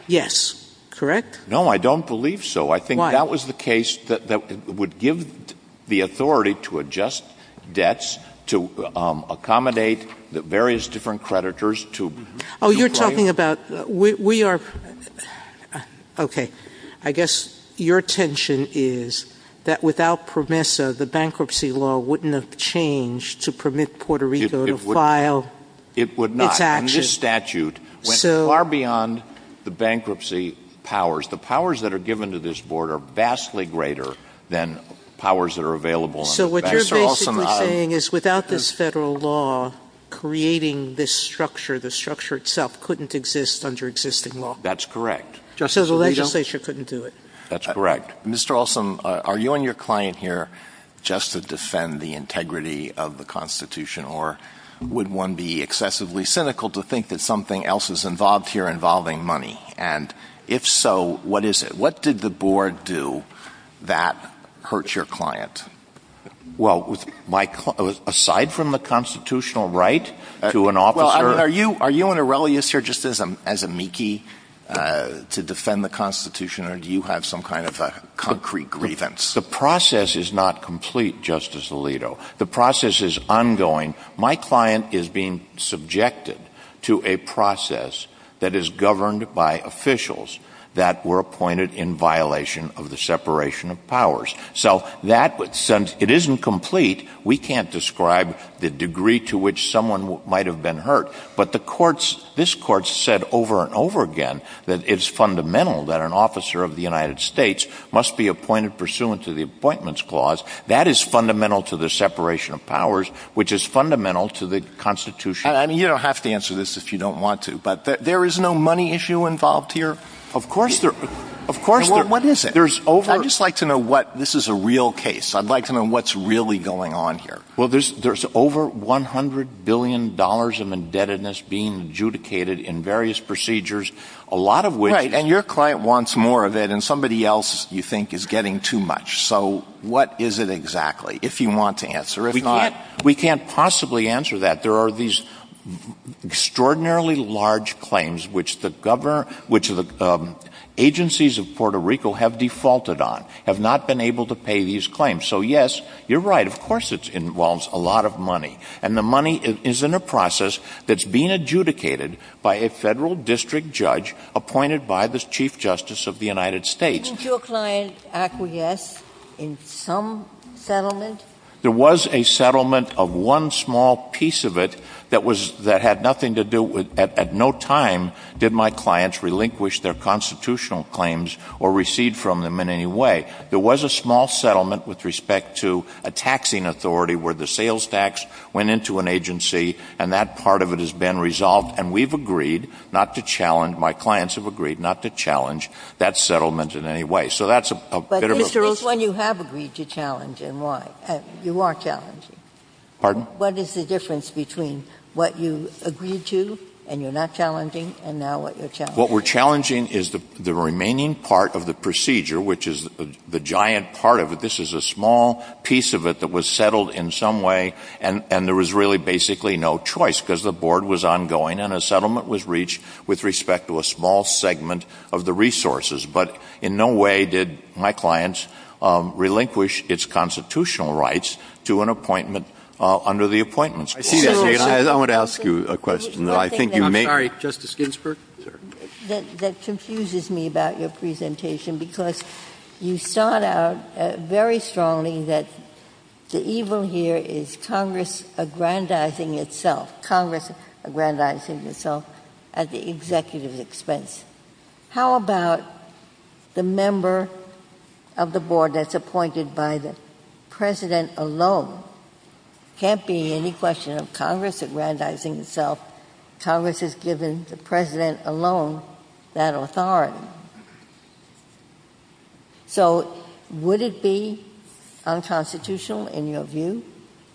Yes. Correct? No. I don't believe so. Why? I think that was the case that would give the authority to adjust debts, to accommodate the various different creditors to... Oh, you're talking about... We are... Okay. Okay. I guess your tension is that without PROMESA, the bankruptcy law wouldn't have changed to permit Puerto Rico to file its actions. It would not. And this statute went far beyond the bankruptcy powers. The powers that are given to this board are vastly greater than powers that are available under... So what you're basically saying is without this federal law creating this structure, the structure itself couldn't exist under existing law? That's correct. Just as the legislature couldn't do it. That's correct. Mr. Olsen, are you and your client here just to defend the integrity of the Constitution or would one be excessively cynical to think that something else is involved here involving money? And if so, what is it? What did the board do that hurt your client? Well, aside from the constitutional right to an officer... To defend the Constitution or do you have some kind of a concrete grievance? The process is not complete, Justice Alito. The process is ongoing. My client is being subjected to a process that is governed by officials that were appointed in violation of the separation of powers. So that, since it isn't complete, we can't describe the degree to which someone might have been hurt. But this court said over and over again that it's fundamental that an officer of the United States must be appointed pursuant to the Appointments Clause. That is fundamental to the separation of powers, which is fundamental to the Constitution. You don't have to answer this if you don't want to, but there is no money issue involved here? Of course there is. What is it? I'd just like to know what... This is a real case. I'd like to know what's really going on here. Well, there's over $100 billion of indebtedness being adjudicated in various procedures, a lot of which... Right, and your client wants more than somebody else you think is getting too much. So what is it exactly, if you want to answer? We can't possibly answer that. There are these extraordinarily large claims which the agencies of Puerto Rico have defaulted on, have not been able to pay these claims. So yes, you're right. Of course it involves a lot of money, and the money is in a process that's being adjudicated by a federal district judge appointed by the Chief Justice of the United States. Didn't your client acquiesce in some settlement? There was a settlement of one small piece of it that had nothing to do with, at no time did my clients relinquish their constitutional claims or recede from them in any way. There was a small settlement with respect to a taxing authority where the sales tax went into an agency, and that part of it has been resolved. And we've agreed not to challenge, my clients have agreed not to challenge, that settlement in any way. So that's a bit of a... But Mr. Oswald, you have agreed to challenge, and why? You are challenging. Pardon? What is the difference between what you agreed to, and you're not challenging, and now what you're challenging? What we're challenging is the remaining part of the procedure, which is the giant part of it. This is a small piece of it that was settled in some way, and there was really basically no choice, because the board was ongoing, and the settlement was reached with respect to a small segment of the resources. But in no way did my clients relinquish its constitutional rights to an appointment under the appointments. I see that. I want to ask you a question. I think you may... I'm sorry. Justice Ginsburg? That confuses me about your presentation, because you sought out very strongly that the evil here is Congress aggrandizing itself, Congress aggrandizing itself, at the executive expense. How about the member of the board that's appointed by the president alone? Can't be any question of Congress aggrandizing itself. Congress has given the president alone that authority. So would it be unconstitutional, in your view,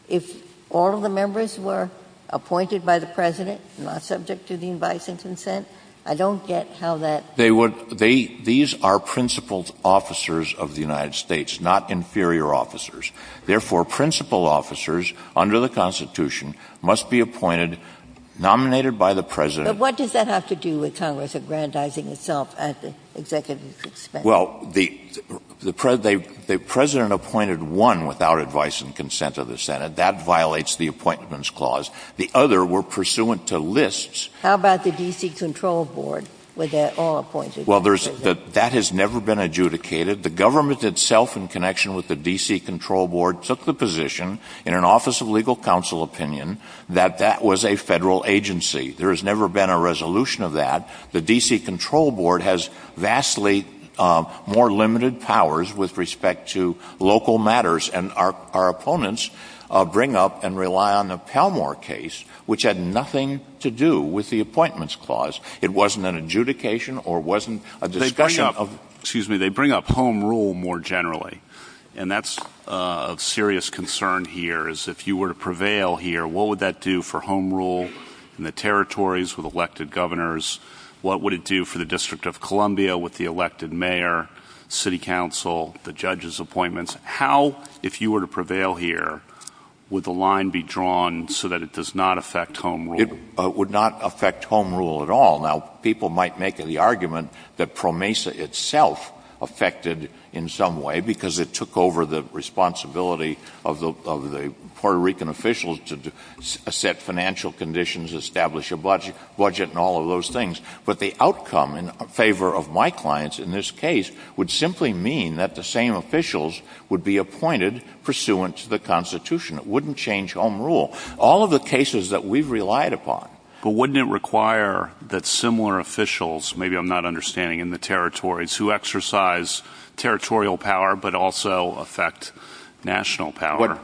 if all of the members were appointed by the president, not subject to the advice and consent? I don't get how that... These are principled officers of the United States, not inferior officers. Therefore, principled officers, under the Constitution, must be appointed, nominated by the president... But what does that have to do with Congress aggrandizing itself at the executive expense? Well, the president appointed one without advice and consent of the Senate. That violates the appointments clause. The other were pursuant to lists. How about the D.C. control board, where they're all appointed by the president? That has never been adjudicated. The government itself, in connection with the D.C. control board, took the position, in an Office of Legal Counsel opinion, that that was a federal agency. There has never been a resolution of that. The D.C. control board has vastly more limited powers with respect to local matters, and our opponents bring up and rely on the Palmore case, which had nothing to do with the appointments clause. It wasn't an adjudication, or it wasn't a discussion of... They bring up home rule more generally, and that's a serious concern here, is if you were to prevail here, what would that do for home rule in the territories with elected governors? What would it do for the District of Columbia with the elected mayor, city council, the judges' appointments? How, if you were to prevail here, would the line be drawn so that it does not affect home rule? It would not affect home rule at all. Now, people might make the argument that PROMESA itself affected it in some way because it took over the responsibility of the Puerto Rican officials to set financial conditions, establish a budget, and all of those things. But the outcome in favor of my clients in this case would simply mean that the same officials would be appointed pursuant to the Constitution. It wouldn't change home rule. All of the cases that we've relied upon... But wouldn't it require that similar officials, maybe I'm not understanding, in the territories who exercise territorial power but also affect national power?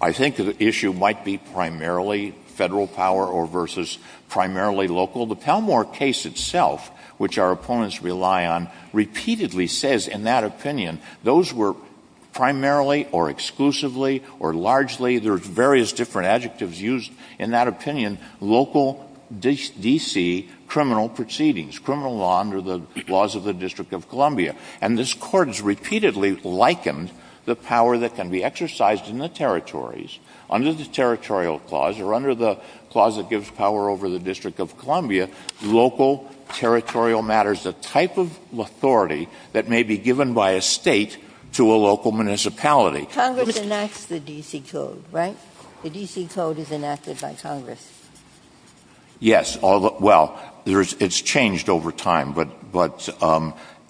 I think the issue might be primarily federal power or versus primarily local. The Pelmore case itself, which our opponents rely on, repeatedly says in that opinion those were primarily or exclusively or largely, there's various different adjectives used in that opinion, local D.C. criminal proceedings, criminal law under the laws of the District of Columbia. And this Court has repeatedly likened the power that can be exercised in the territories under the territorial clause or under the clause that gives power over the District of Columbia, local territorial matters, the type of authority that may be given by a state to a local municipality. Congress enacts the D.C. Code, right? The D.C. Code is enacted by Congress. Yes. Well, it's changed over time, but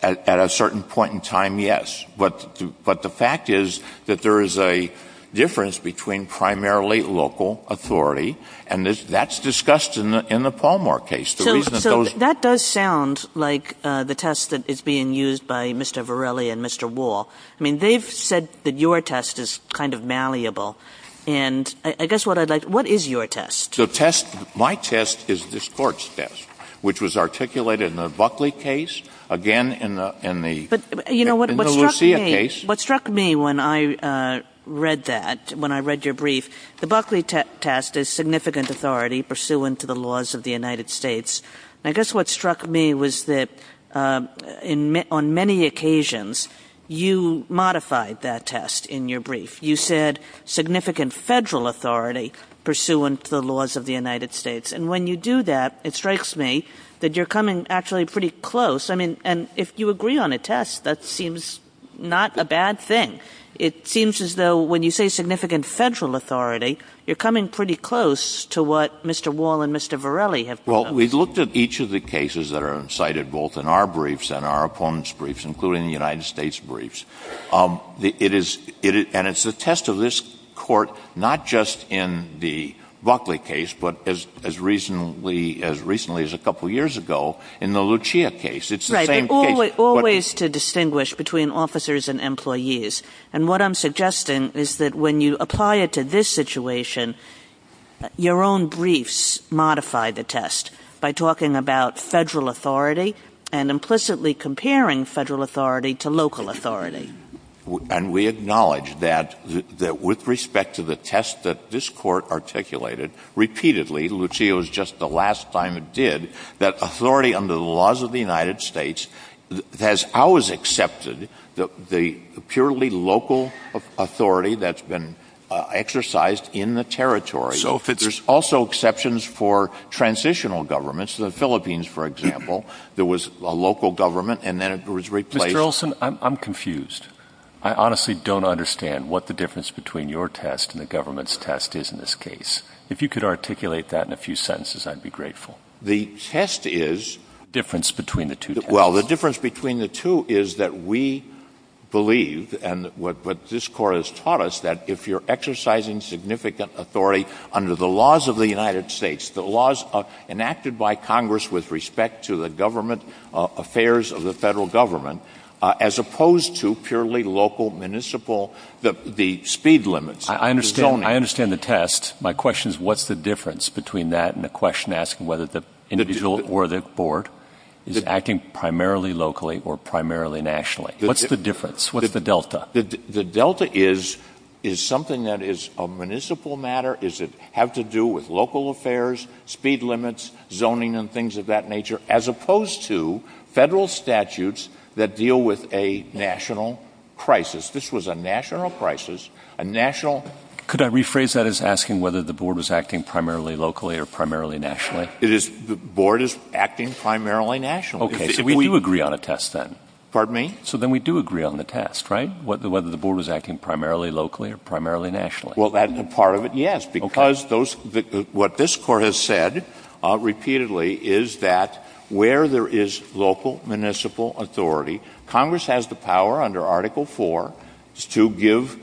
at a certain point in time, yes. But the fact is that there is a difference between primarily local authority, and that's discussed in the Pelmore case. So that does sound like the test that is being used by Mr. Varelli and Mr. Wall. I mean, they've said that your test is kind of malleable. And I guess what I'd like to know, what is your test? My test is this Court's test, which was articulated in the Buckley case, again in the Lucia case. What struck me when I read that, when I read your brief, the Buckley test is significant authority pursuant to the laws of the United States. I guess what struck me was that on many occasions, you modified that test in your brief. You said significant federal authority pursuant to the laws of the United States. And when you do that, it strikes me that you're coming actually pretty close. I mean, and if you agree on a test, that seems not a bad thing. It seems as though when you say significant federal authority, you're coming pretty close to what Mr. Wall and Mr. Varelli have done. Well, we've looked at each of the cases that are cited both in our briefs and our opponents' briefs, including the United States briefs. It is, and it's a test of this Court, not just in the Buckley case, but as recently as a couple years ago, in the Lucia case. It's the same case. Right. Always to distinguish between officers and employees. And what I'm suggesting is that when you apply it to this situation, your own briefs modify the test by talking about federal authority and implicitly comparing federal authority to local authority. And we acknowledge that with respect to the test that this Court articulated repeatedly, Lucia was just the last time it did, that authority under the laws of the United States has always accepted the purely local authority that's been exercised in the territory. So if there's also exceptions for transitional governments, the Philippines, for example, there was a local government and then it was replaced. Mr. Wilson, I'm confused. I honestly don't understand what the difference between your test and the government's test is in this case. If you could articulate that in a few sentences, I'd be grateful. The test is difference between the two. Well, the difference between the two is that we believe, and what this Court has taught us, that if you're exercising significant authority under the laws of the United States, the laws enacted by Congress with respect to the government affairs of the federal government, as opposed to purely local, municipal, the speed limits. I understand the test. My question is what's the difference between that and the question asking whether the individual or the board? Is it acting primarily locally or primarily nationally? What's the difference? What is the delta? The delta is something that is a municipal matter. Does it have to do with local affairs, speed limits, zoning and things of that nature, as opposed to federal statutes that deal with a national crisis. This was a national crisis, a national... Could I rephrase that as asking whether the board was acting primarily locally or primarily nationally? The board is acting primarily nationally. Okay, so we do agree on a test then. Pardon me? So then we do agree on the test, right? Whether the board was acting primarily locally or primarily nationally. Well, that's a part of it, yes, because what this Court has said repeatedly is that where there is local, municipal authority, Congress has the power under Article IV to give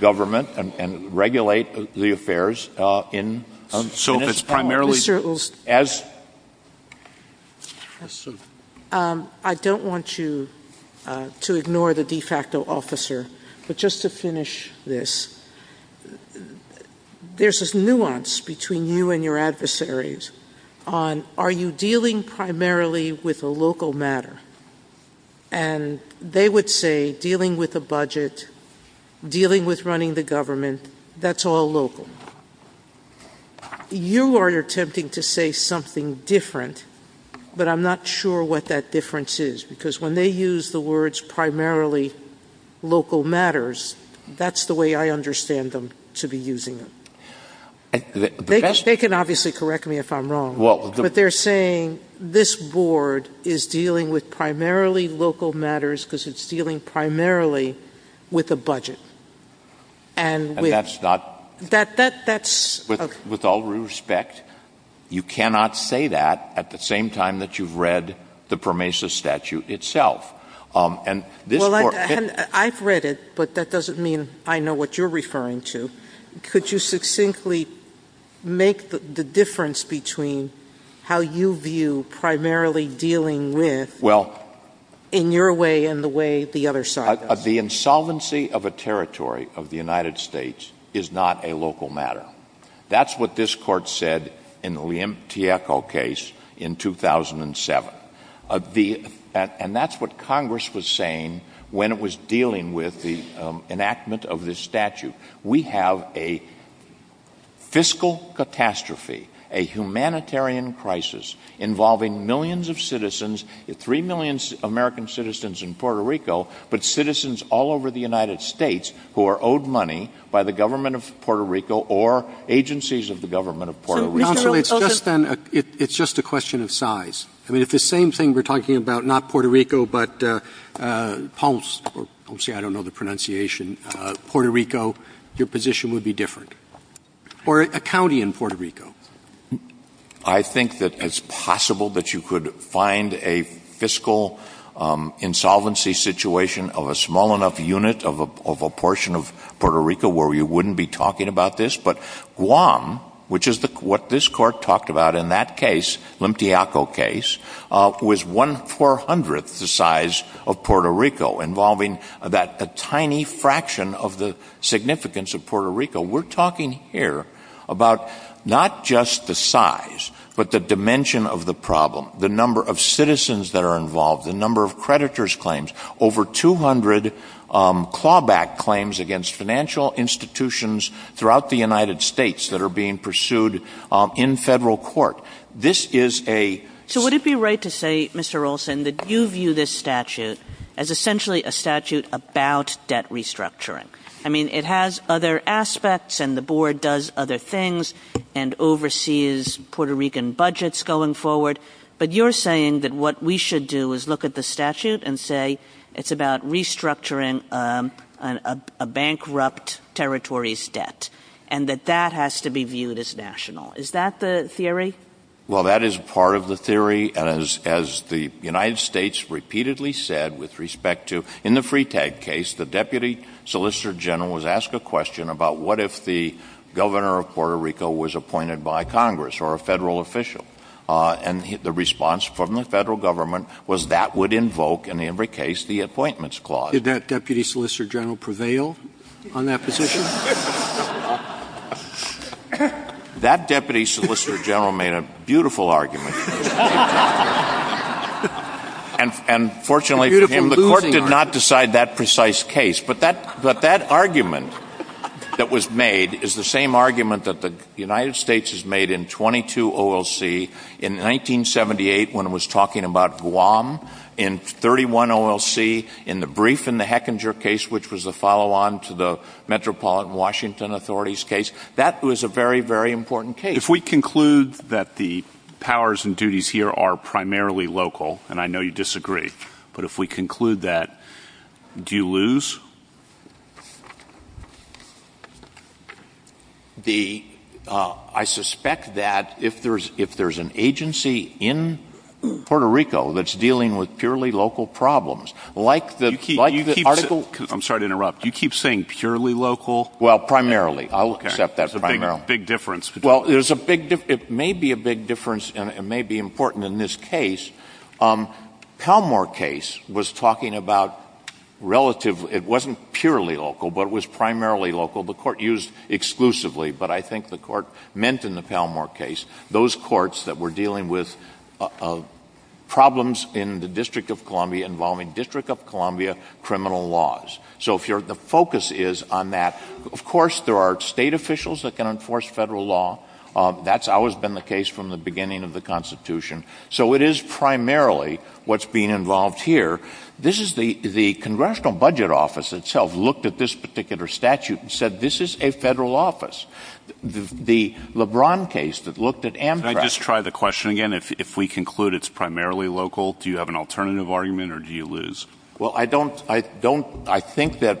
government and regulate the affairs in... So it's primarily as... I don't want to ignore the de facto officer, but just to finish this, there's this nuance between you and your adversaries on, are you dealing primarily with a local matter? And they would say dealing with the budget, dealing with running the government, that's all local. You are attempting to say something different, but I'm not sure what that difference is, because when they use the words primarily local matters, that's the way I understand them to be using them. They can obviously correct me if I'm wrong, but they're saying this board is dealing with primarily local matters because it's dealing primarily with the budget. And that's not... That's... With all due respect, you cannot say that at the same time that you've read the PROMESA statute itself. And this board... Well, I've read it, but that doesn't mean I know what you're referring to. Could you succinctly make the difference between how you view primarily dealing with, in your way and the way the other side does? The insolvency of a territory of the United States is not a local matter. That's what this court said in the Liam Tiecho case in 2007. And that's what Congress was saying when it was dealing with the enactment of this statute. We have a fiscal catastrophe, a humanitarian crisis involving millions of citizens, three citizens all over the United States who are owed money by the government of Puerto Rico or agencies of the government of Puerto Rico. It's just a question of size. I mean, it's the same thing we're talking about, not Puerto Rico, but Ponce, I don't know the pronunciation, Puerto Rico, your position would be different, or a county in Puerto Rico. I think that it's possible that you could find a fiscal insolvency situation of a small enough unit of a portion of Puerto Rico where you wouldn't be talking about this. But Guam, which is what this court talked about in that case, Liam Tiecho case, was one four hundredth the size of Puerto Rico, involving a tiny fraction of the significance of Puerto Rico. So we're talking here about not just the size, but the dimension of the problem, the number of citizens that are involved, the number of creditors' claims, over two hundred clawback claims against financial institutions throughout the United States that are being pursued in federal court. This is a... So would it be right to say, Mr. Olson, that you view this statute as essentially a statute about debt restructuring? I mean, it has other aspects, and the board does other things, and oversees Puerto Rican budgets going forward. But you're saying that what we should do is look at the statute and say it's about restructuring a bankrupt territory's debt, and that that has to be viewed as national. Is that the theory? Well, that is part of the theory, as the United States repeatedly said with respect to, in the Freetag case, the deputy solicitor general was asked a question about what if the governor of Puerto Rico was appointed by Congress, or a federal official. And the response from the federal government was that would invoke, in every case, the appointments clause. Did that deputy solicitor general prevail on that position? That deputy solicitor general made a beautiful argument. And fortunately for him, the court did not decide that precise case. But that argument that was made is the same argument that the United States has made in 22 OLC, in 1978, when it was talking about Guam, in 31 OLC, in the brief in the Hechinger case, which was a follow-on to the Metropolitan Washington authorities case. That was a very, very important case. If we conclude that the powers and duties here are primarily local, and I know you disagree, but if we conclude that, do you lose? I suspect that if there's an agency in Puerto Rico that's dealing with purely local problems, like the article... You keep... I'm sorry to interrupt. You keep saying purely local? Well, primarily. I'll accept that's primarily. Okay. But there's a big... It may be a big difference, and it may be important in this case. Palmore case was talking about relative... It wasn't purely local, but it was primarily local. The court used exclusively, but I think the court meant in the Palmore case, those courts that were dealing with problems in the District of Columbia involving District of Columbia criminal laws. So the focus is on that. Of course, there are state officials that can enforce federal law. That's always been the case from the beginning of the Constitution. So it is primarily what's being involved here. This is the... The Congressional Budget Office itself looked at this particular statute and said, this is a federal office. The LeBron case that looked at Amtrak... Can I just try the question again? If we conclude it's primarily local, do you have an alternative argument, or do you lose? Well, I don't... I don't... I think that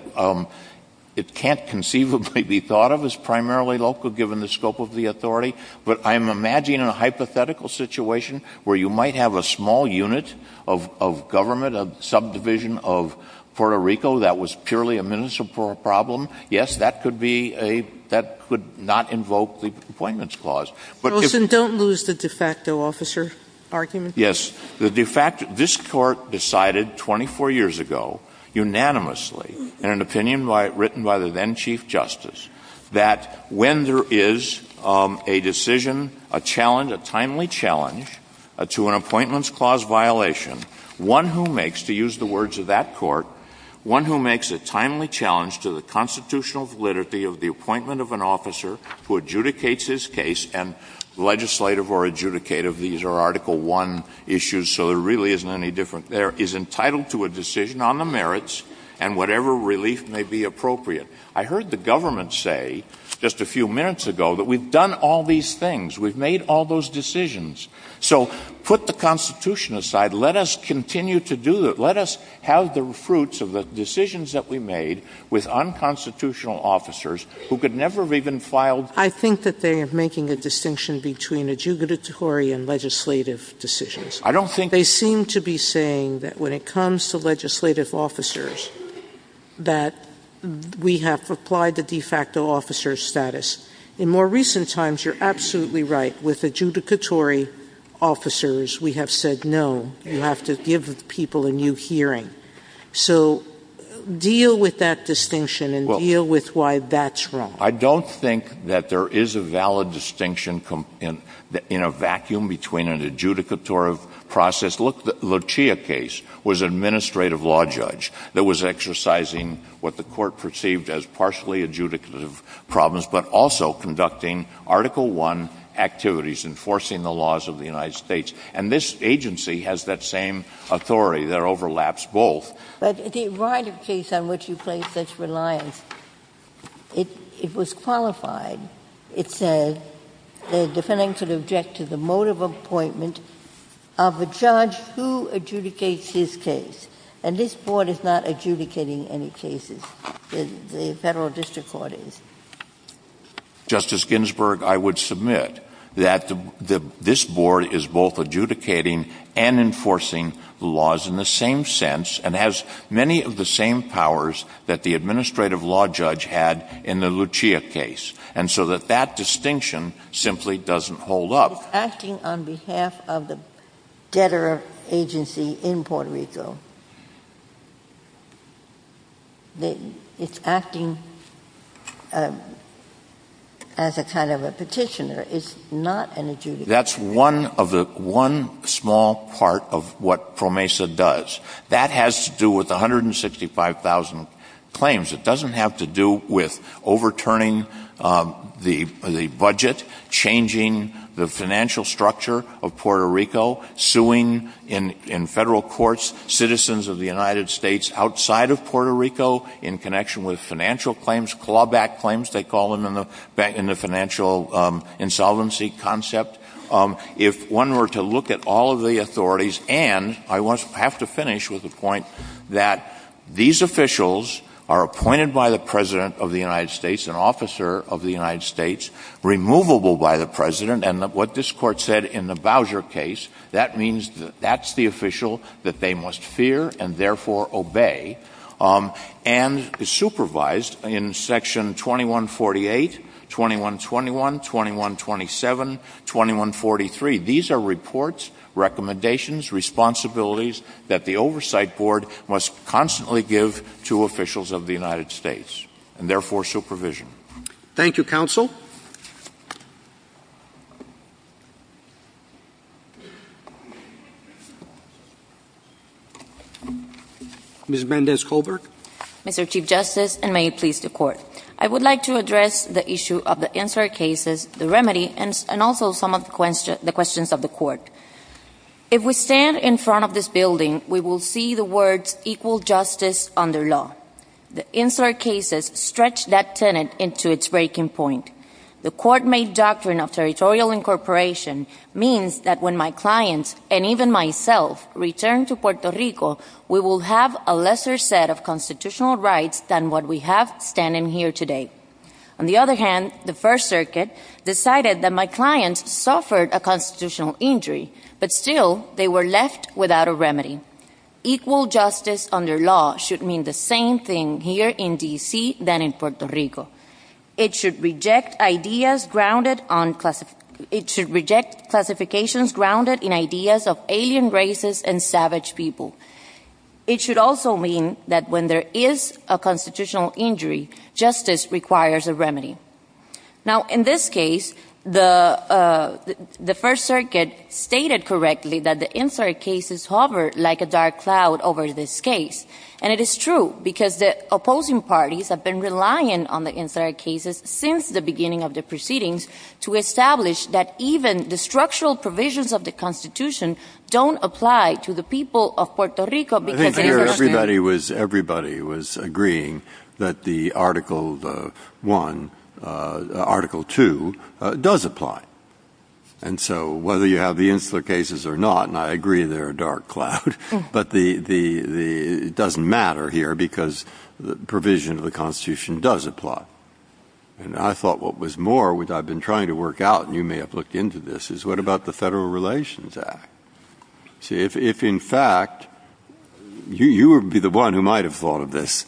it can't conceivably be thought of as primarily local, given the scope of the authority. But I'm imagining a hypothetical situation where you might have a small unit of government, a subdivision of Puerto Rico that was purely a municipal problem. Yes, that could be a... That could not invoke the Complainants Clause. Wilson, don't lose the de facto officer argument. Yes. The de facto... This Court decided 24 years ago, unanimously, in an opinion written by the then Chief Justice, that when there is a decision, a challenge, a timely challenge to an Appointments Clause violation, one who makes, to use the words of that Court, one who makes a timely challenge to the constitutional validity of the appointment of an officer who adjudicates his case, and is entitled to a decision on the merits and whatever relief may be appropriate. I heard the government say, just a few minutes ago, that we've done all these things, we've made all those decisions. So put the Constitution aside, let us continue to do that. Let us have the fruits of the decisions that we made with unconstitutional officers who could never have even filed... I think that they are making a distinction between adjugatory and legislative decisions. I don't think... They seem to be saying that when it comes to legislative officers, that we have applied the de facto officer status. In more recent times, you're absolutely right. With adjudicatory officers, we have said, no, you have to give people a new hearing. So deal with that distinction and deal with why that's wrong. I don't think that there is a valid distinction in a vacuum between an adjudicatory process... The Lucia case was an administrative law judge that was exercising what the court perceived as partially adjudicative problems, but also conducting Article I activities, enforcing the laws of the United States. And this agency has that same authority that overlaps both. But if you write a case on which you place such reliance, if it was qualified, it says the defendant could object to the motive of appointment of the judge who adjudicates his case. And this board is not adjudicating any cases. The federal district court is. Justice Ginsburg, I would submit that this board is both adjudicating and enforcing laws in the same sense and has many of the same powers that the administrative law judge had in the Lucia case. And so that that distinction simply doesn't hold up. It's acting on behalf of the debtor agency in Puerto Rico. It's acting as a kind of a petitioner. It's not an adjudicator. That's one small part of what PROMESA does. That has to do with 165,000 claims. It doesn't have to do with overturning the budget, changing the financial structure of Puerto Rico, suing in federal courts citizens of the United States outside of Puerto Rico in connection with financial claims, clawback claims, they call them in the financial insolvency concept. If one were to look at all of the authorities, and I have to finish with the point that these officials are appointed by the President of the United States, an officer of the United States, removable by the President. And what this Court said in the Bowser case, that means that that's the official that they must fear and therefore obey, and is supervised in Section 2148, 2121, 2127, 2143. These are reports, recommendations, responsibilities that the Oversight Board must constantly give to officials of the United States, and therefore supervision. Thank you, Counsel. Ms. Mendez-Coburg. Mr. Chief Justice, and may it please the Court. I would like to address the issue of the Insular Cases, the remedy, and also some of the questions of the Court. If we stand in front of this building, we will see the words equal justice under law. The Insular Cases stretch that tenet into its breaking point. The court-made doctrine of territorial incorporation means that when my clients, and even myself, return to Puerto Rico, we will have a lesser set of constitutional rights than what we have standing here today. On the other hand, the First Circuit decided that my clients suffered a constitutional injury, but still they were left without a remedy. Equal justice under law should mean the same thing here in D.C. than in Puerto Rico. It should reject classifications grounded in ideas of alien races and savage people. It should also mean that when there is a constitutional injury, justice requires a remedy. Now, in this case, the First Circuit stated correctly that the Insular Cases hover like a dark cloud over this case. And it is true, because the opposing parties have been relying on the Insular Cases since the beginning of the proceedings to establish that even the structural provisions of the Constitution don't apply to the people of Puerto Rico. I think here everybody was agreeing that the Article I, Article II, does apply. And so, whether you have the Insular Cases or not, and I agree they're a dark cloud, but it doesn't matter here because the provision of the Constitution does apply. And I thought what was more, which I've been trying to work out, and you may have looked into this, is what about the Federal Relations Act? If in fact, you would be the one who might have thought of this,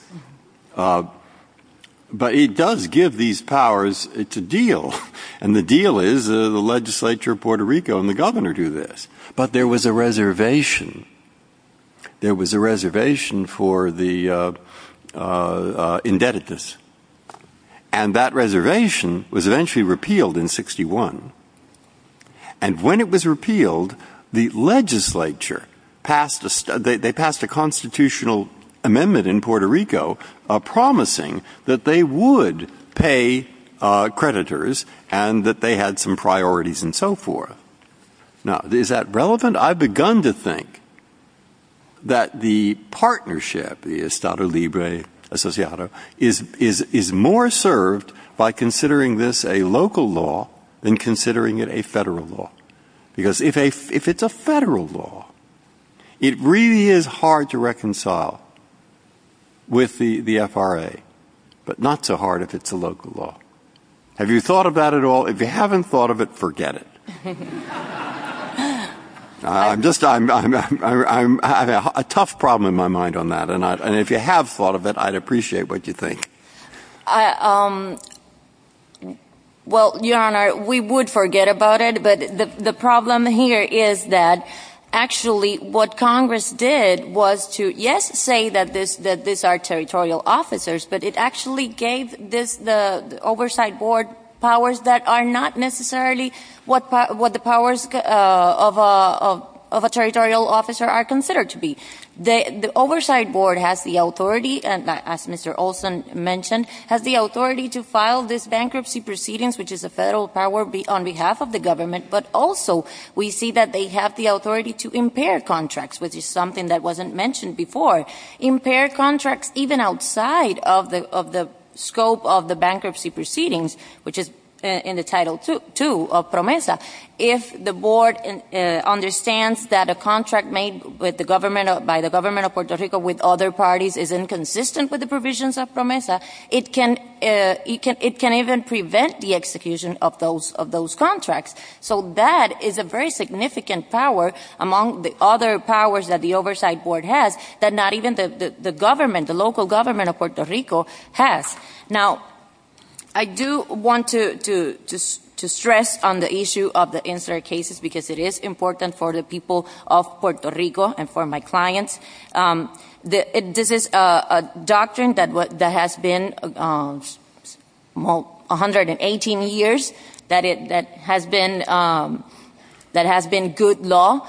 but it does give these powers, it's a deal. And the deal is the legislature of Puerto Rico and the governor do this. But there was a reservation. There was a reservation for the indebtedness. And that reservation was eventually repealed in 61. And when it was repealed, the legislature passed a constitutional amendment in Puerto Rico promising that they would pay creditors and that they had some priorities and so forth. Now, is that relevant? I've begun to think that the partnership, Estado Libre Associado, is more served by than considering it a federal law. Because if it's a federal law, it really is hard to reconcile with the FRA, but not so hard if it's a local law. Have you thought about it at all? If you haven't thought of it, forget it. I'm just, I have a tough problem in my mind on that. And if you have thought of it, I'd appreciate what you think. Well, Your Honor, we would forget about it. But the problem here is that actually what Congress did was to, yes, say that these are territorial officers, but it actually gave the oversight board powers that are not necessarily what the powers of a territorial officer are considered to be. The oversight board has the authority, as Mr. Olson mentioned, has the authority to file this bankruptcy proceedings, which is a federal power on behalf of the government, but also we see that they have the authority to impair contracts, which is something that wasn't mentioned before. Impair contracts even outside of the scope of the bankruptcy proceedings, which is in Title II of PROMESA. If the board understands that a contract made by the government of Puerto Rico with other parties is inconsistent with the provisions of PROMESA, it can even prevent the execution of those contracts. So that is a very significant power among the other powers that the oversight board has that not even the government, the local government of Puerto Rico has. Now, I do want to stress on the issue of the incident cases because it is important for the people of Puerto Rico and for my clients. This is a doctrine that has been 118 years, that has been good law.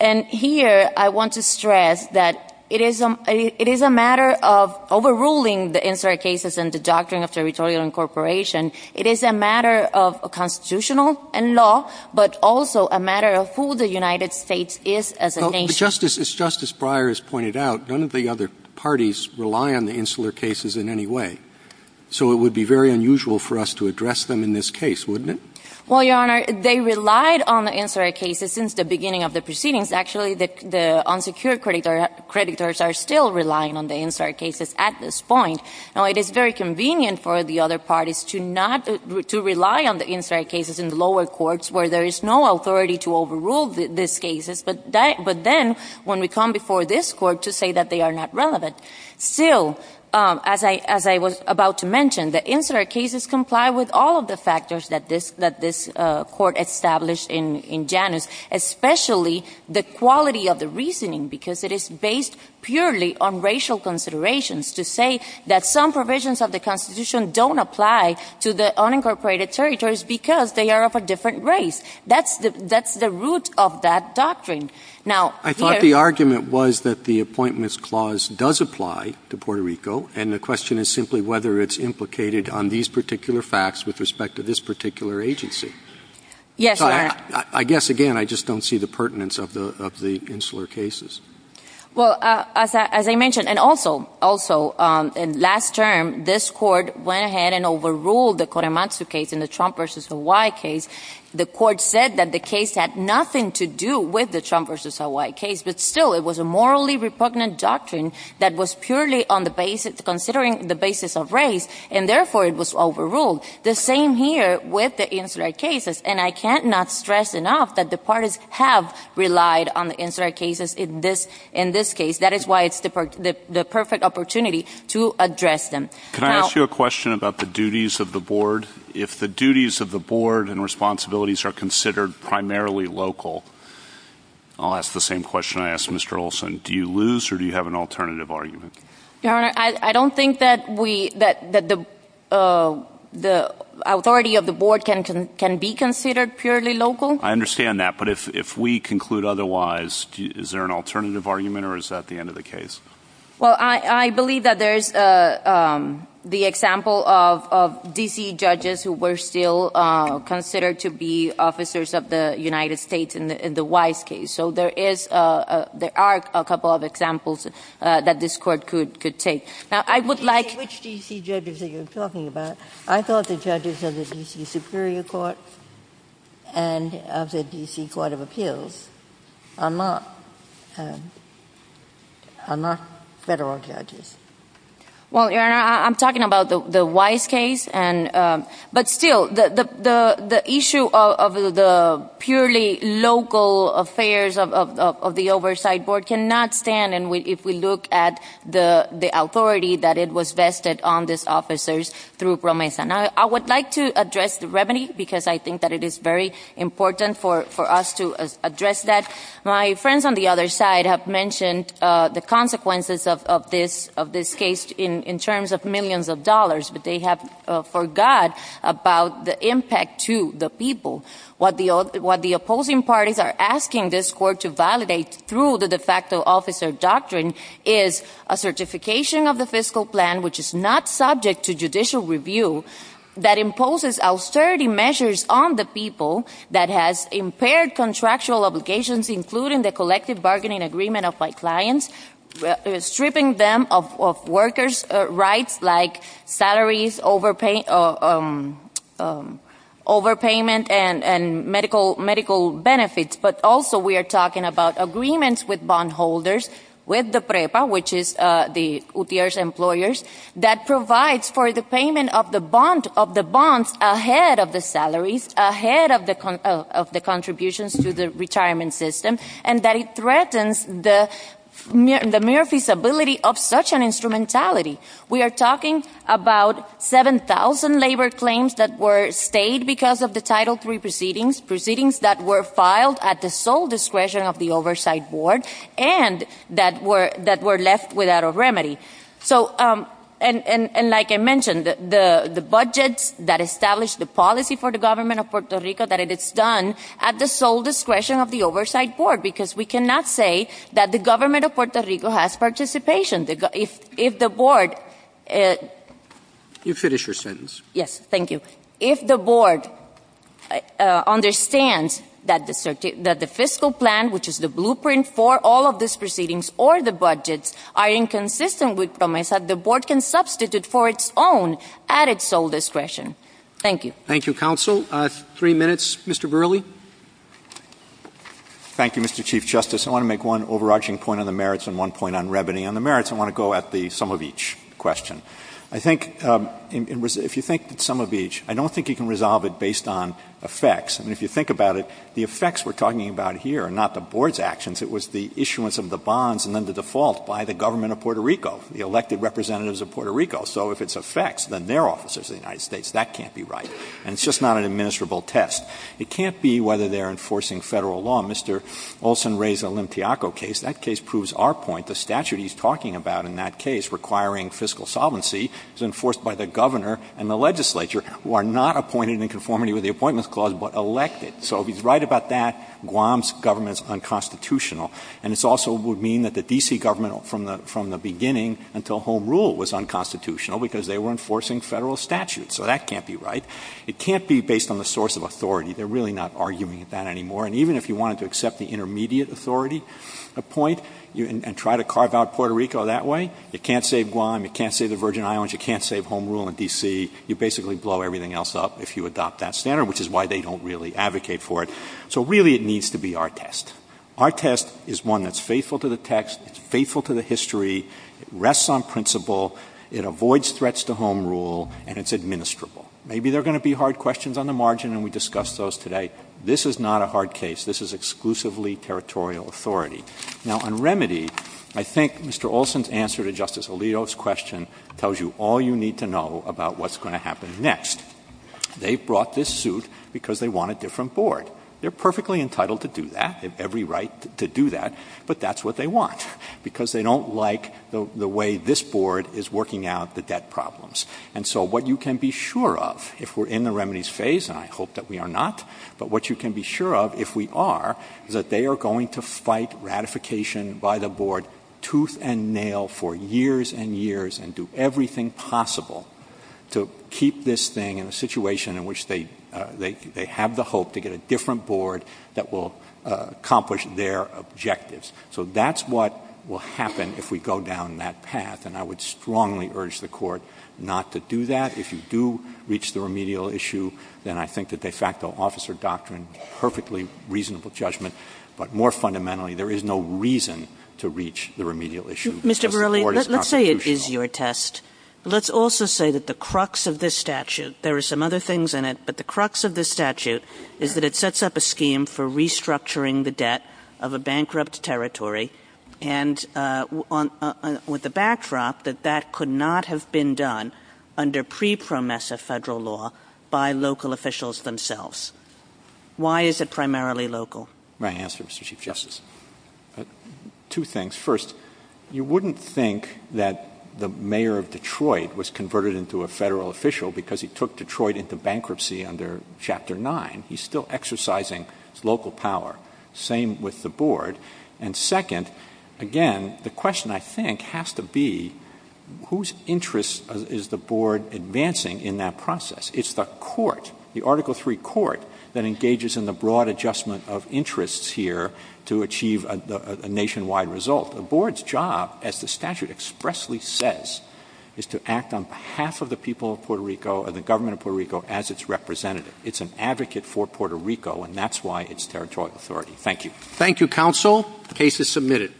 And here I want to stress that it is a matter of overruling the incident cases and the doctrine of territorial incorporation. It is a matter of constitutional and law, but also a matter of who the United States is as a nation. As Justice Breyer has pointed out, none of the other parties rely on the incident cases in any way. So it would be very unusual for us to address them in this case, wouldn't it? Well, Your Honor, they relied on the incident cases since the beginning of the proceedings. Actually, the unsecured creditors are still relying on the incident cases at this point. Now, it is very convenient for the other parties to rely on the incident cases in the lower courts where there is no authority to overrule these cases, but then when we come before this court to say that they are not relevant. Still, as I was about to mention, the incident cases comply with all of the factors that this court established in Janus, especially the quality of the reasoning because it is based purely on racial considerations to say that some provisions of the Constitution don't apply to the unincorporated territories because they are of a different race. That's the root of that doctrine. I thought the argument was that the Appointments Clause does apply to Puerto Rico, and the question is simply whether it's implicated on these particular facts with respect to this particular agency. Yes, Your Honor. I guess, again, I just don't see the pertinence of the insular cases. Well, as I mentioned, and also, last term, this court went ahead and overruled the Korematsu case in the Trump v. Hawaii case. The court said that the case had nothing to do with the Trump v. Hawaii case, but still, it was a morally repugnant doctrine that was purely considering the basis of race, and therefore, it was overruled. The same here with the insular cases, and I cannot stress enough that the parties have relied on the insular cases in this case. That is why it's the perfect opportunity to address them. Can I ask you a question about the duties of the board? If the duties of the board and responsibilities are considered primarily local, I'll ask the same question I asked Mr. Olson. Do you lose, or do you have an alternative argument? Your Honor, I don't think that the authority of the board can be considered purely local. I understand that, but if we conclude otherwise, is there an alternative argument, or is that the end of the case? Well, I believe that there is the example of D.C. judges who were still considered to be officers of the United States in the Wise case, so there are a couple of examples that this court could take. Now, I would like… Which D.C. judges are you talking about? I thought the judges of the D.C. Superior Court and of the D.C. Court of Appeals are not federal judges. Well, Your Honor, I'm talking about the Wise case, but still, the issue of the purely local affairs of the oversight board cannot stand if we look at the authority that it was vested on these officers through PROMESA. Now, I would like to address the remedy, because I think that it is very important for us to address that. My friends on the other side have mentioned the consequences of this case in terms of millions of dollars, but they have forgot about the impact to the people. What the opposing parties are asking this court to validate through the de facto officer doctrine is a certification of the fiscal plan, which is not subject to judicial review, that imposes austerity measures on the people that has impaired contractual obligations, including the collective bargaining agreement of my clients, stripping them of workers' rights like salaries, overpayment, and medical benefits. But also, we are talking about agreements with bondholders, with the PREPA, which is the UTIERRA's employers, that provides for the payment of the bonds ahead of the salaries, ahead of the contributions to the retirement system, and that it threatens the mere feasibility of such an instrumentality. We are talking about 7,000 labor claims that were stayed because of the Title III proceedings, proceedings that were filed at the sole discretion of the Oversight Board, and that were left without a remedy. And like I mentioned, the budget that established the policy for the government of Puerto Rico that it is done at the sole discretion of the Oversight Board, because we cannot say that the government of Puerto Rico has participation. If the board... You finish your sentence. Yes, thank you. If the board understands that the fiscal plan, which is the blueprint for all of these proceedings or the budgets, are inconsistent with them, I said the board can substitute for its own at its sole discretion. Thank you. Thank you, counsel. Three minutes, Mr. Verrilli. Thank you, Mr. Chief Justice. I want to make one overarching point on the merits and one point on revenue. On the merits, I want to go at the sum of each question. I think if you think sum of each, I don't think you can resolve it based on effects. And if you think about it, the effects we're talking about here are not the board's actions. It was the issuance of the bonds and then the default by the government of Puerto Rico, the elected representatives of Puerto Rico. So if it's effects, then they're officers of the United States. That can't be right. And it's just not an administrable test. It can't be whether they're enforcing federal law. Mr. Olson raised the Olympiaco case. That case proves our point. The statute he's talking about in that case requiring fiscal solvency is enforced by the governor and the legislature who are not appointed in conformity with the Appointments Clause but elected. So if he's right about that, Guam's government is unconstitutional. And it also would mean that the D.C. government from the beginning until Home Rule was unconstitutional because they were enforcing federal statutes. So that can't be right. It can't be based on the source of authority. They're really not arguing that anymore. And even if you wanted to accept the intermediate authority point and try to carve out Puerto Rico that way, it can't save Guam. It can't save the Virgin Islands. It can't save Home Rule in D.C. You basically blow everything else up if you adopt that standard, which is why they don't really advocate for it. So really it needs to be our test. Our test is one that's faithful to the text, faithful to the history, rests on principle, it avoids threats to Home Rule, and it's administrable. Maybe there are going to be hard questions on the margin, and we discussed those today. This is not a hard case. This is exclusively territorial authority. Now, on remedy, I think Mr. Olson's answer to Justice Alito's question tells you all you need to know about what's going to happen next. They brought this suit because they want a different board. They're perfectly entitled to do that, have every right to do that, but that's what they want, because they don't like the way this board is working out the debt problems. And so what you can be sure of if we're in the remedies phase, and I hope that we are not, but what you can be sure of if we are is that they are going to fight ratification by the board tooth and nail for years and years and do everything possible to keep this thing in a situation in which they have the hope to get a different board that will accomplish their objectives. So that's what will happen if we go down that path, and I would strongly urge the court not to do that. If you do reach the remedial issue, then I think the de facto officer doctrine, perfectly reasonable judgment, but more fundamentally, there is no reason to reach the remedial issue. Mr. Verrilli, let's say it is your test. Let's also say that the crux of this statute, there are some other things in it, but the crux of this statute is that it sets up a scheme for restructuring the debt of a bankrupt territory, and with the backdrop that that could not have been done under pre-PROMESA federal law by local officials themselves. Why is it primarily local? May I answer, Mr. Chief Justice? Two things. First, you wouldn't think that the mayor of Detroit was converted into a federal official because he took Detroit into bankruptcy under Chapter 9. He's still exercising local power. Same with the board. And second, again, the question, I think, has to be whose interest is the board advancing in that process? It's the court, the Article III court, that engages in the broad adjustment of interests here to achieve a nationwide result. The board's job, as the statute expressly says, is to act on behalf of the people of Puerto Rico and the government of Puerto Rico as its representative. It's an advocate for Puerto Rico, and that's why it's territorial authority. Thank you. Thank you, counsel. The case is submitted.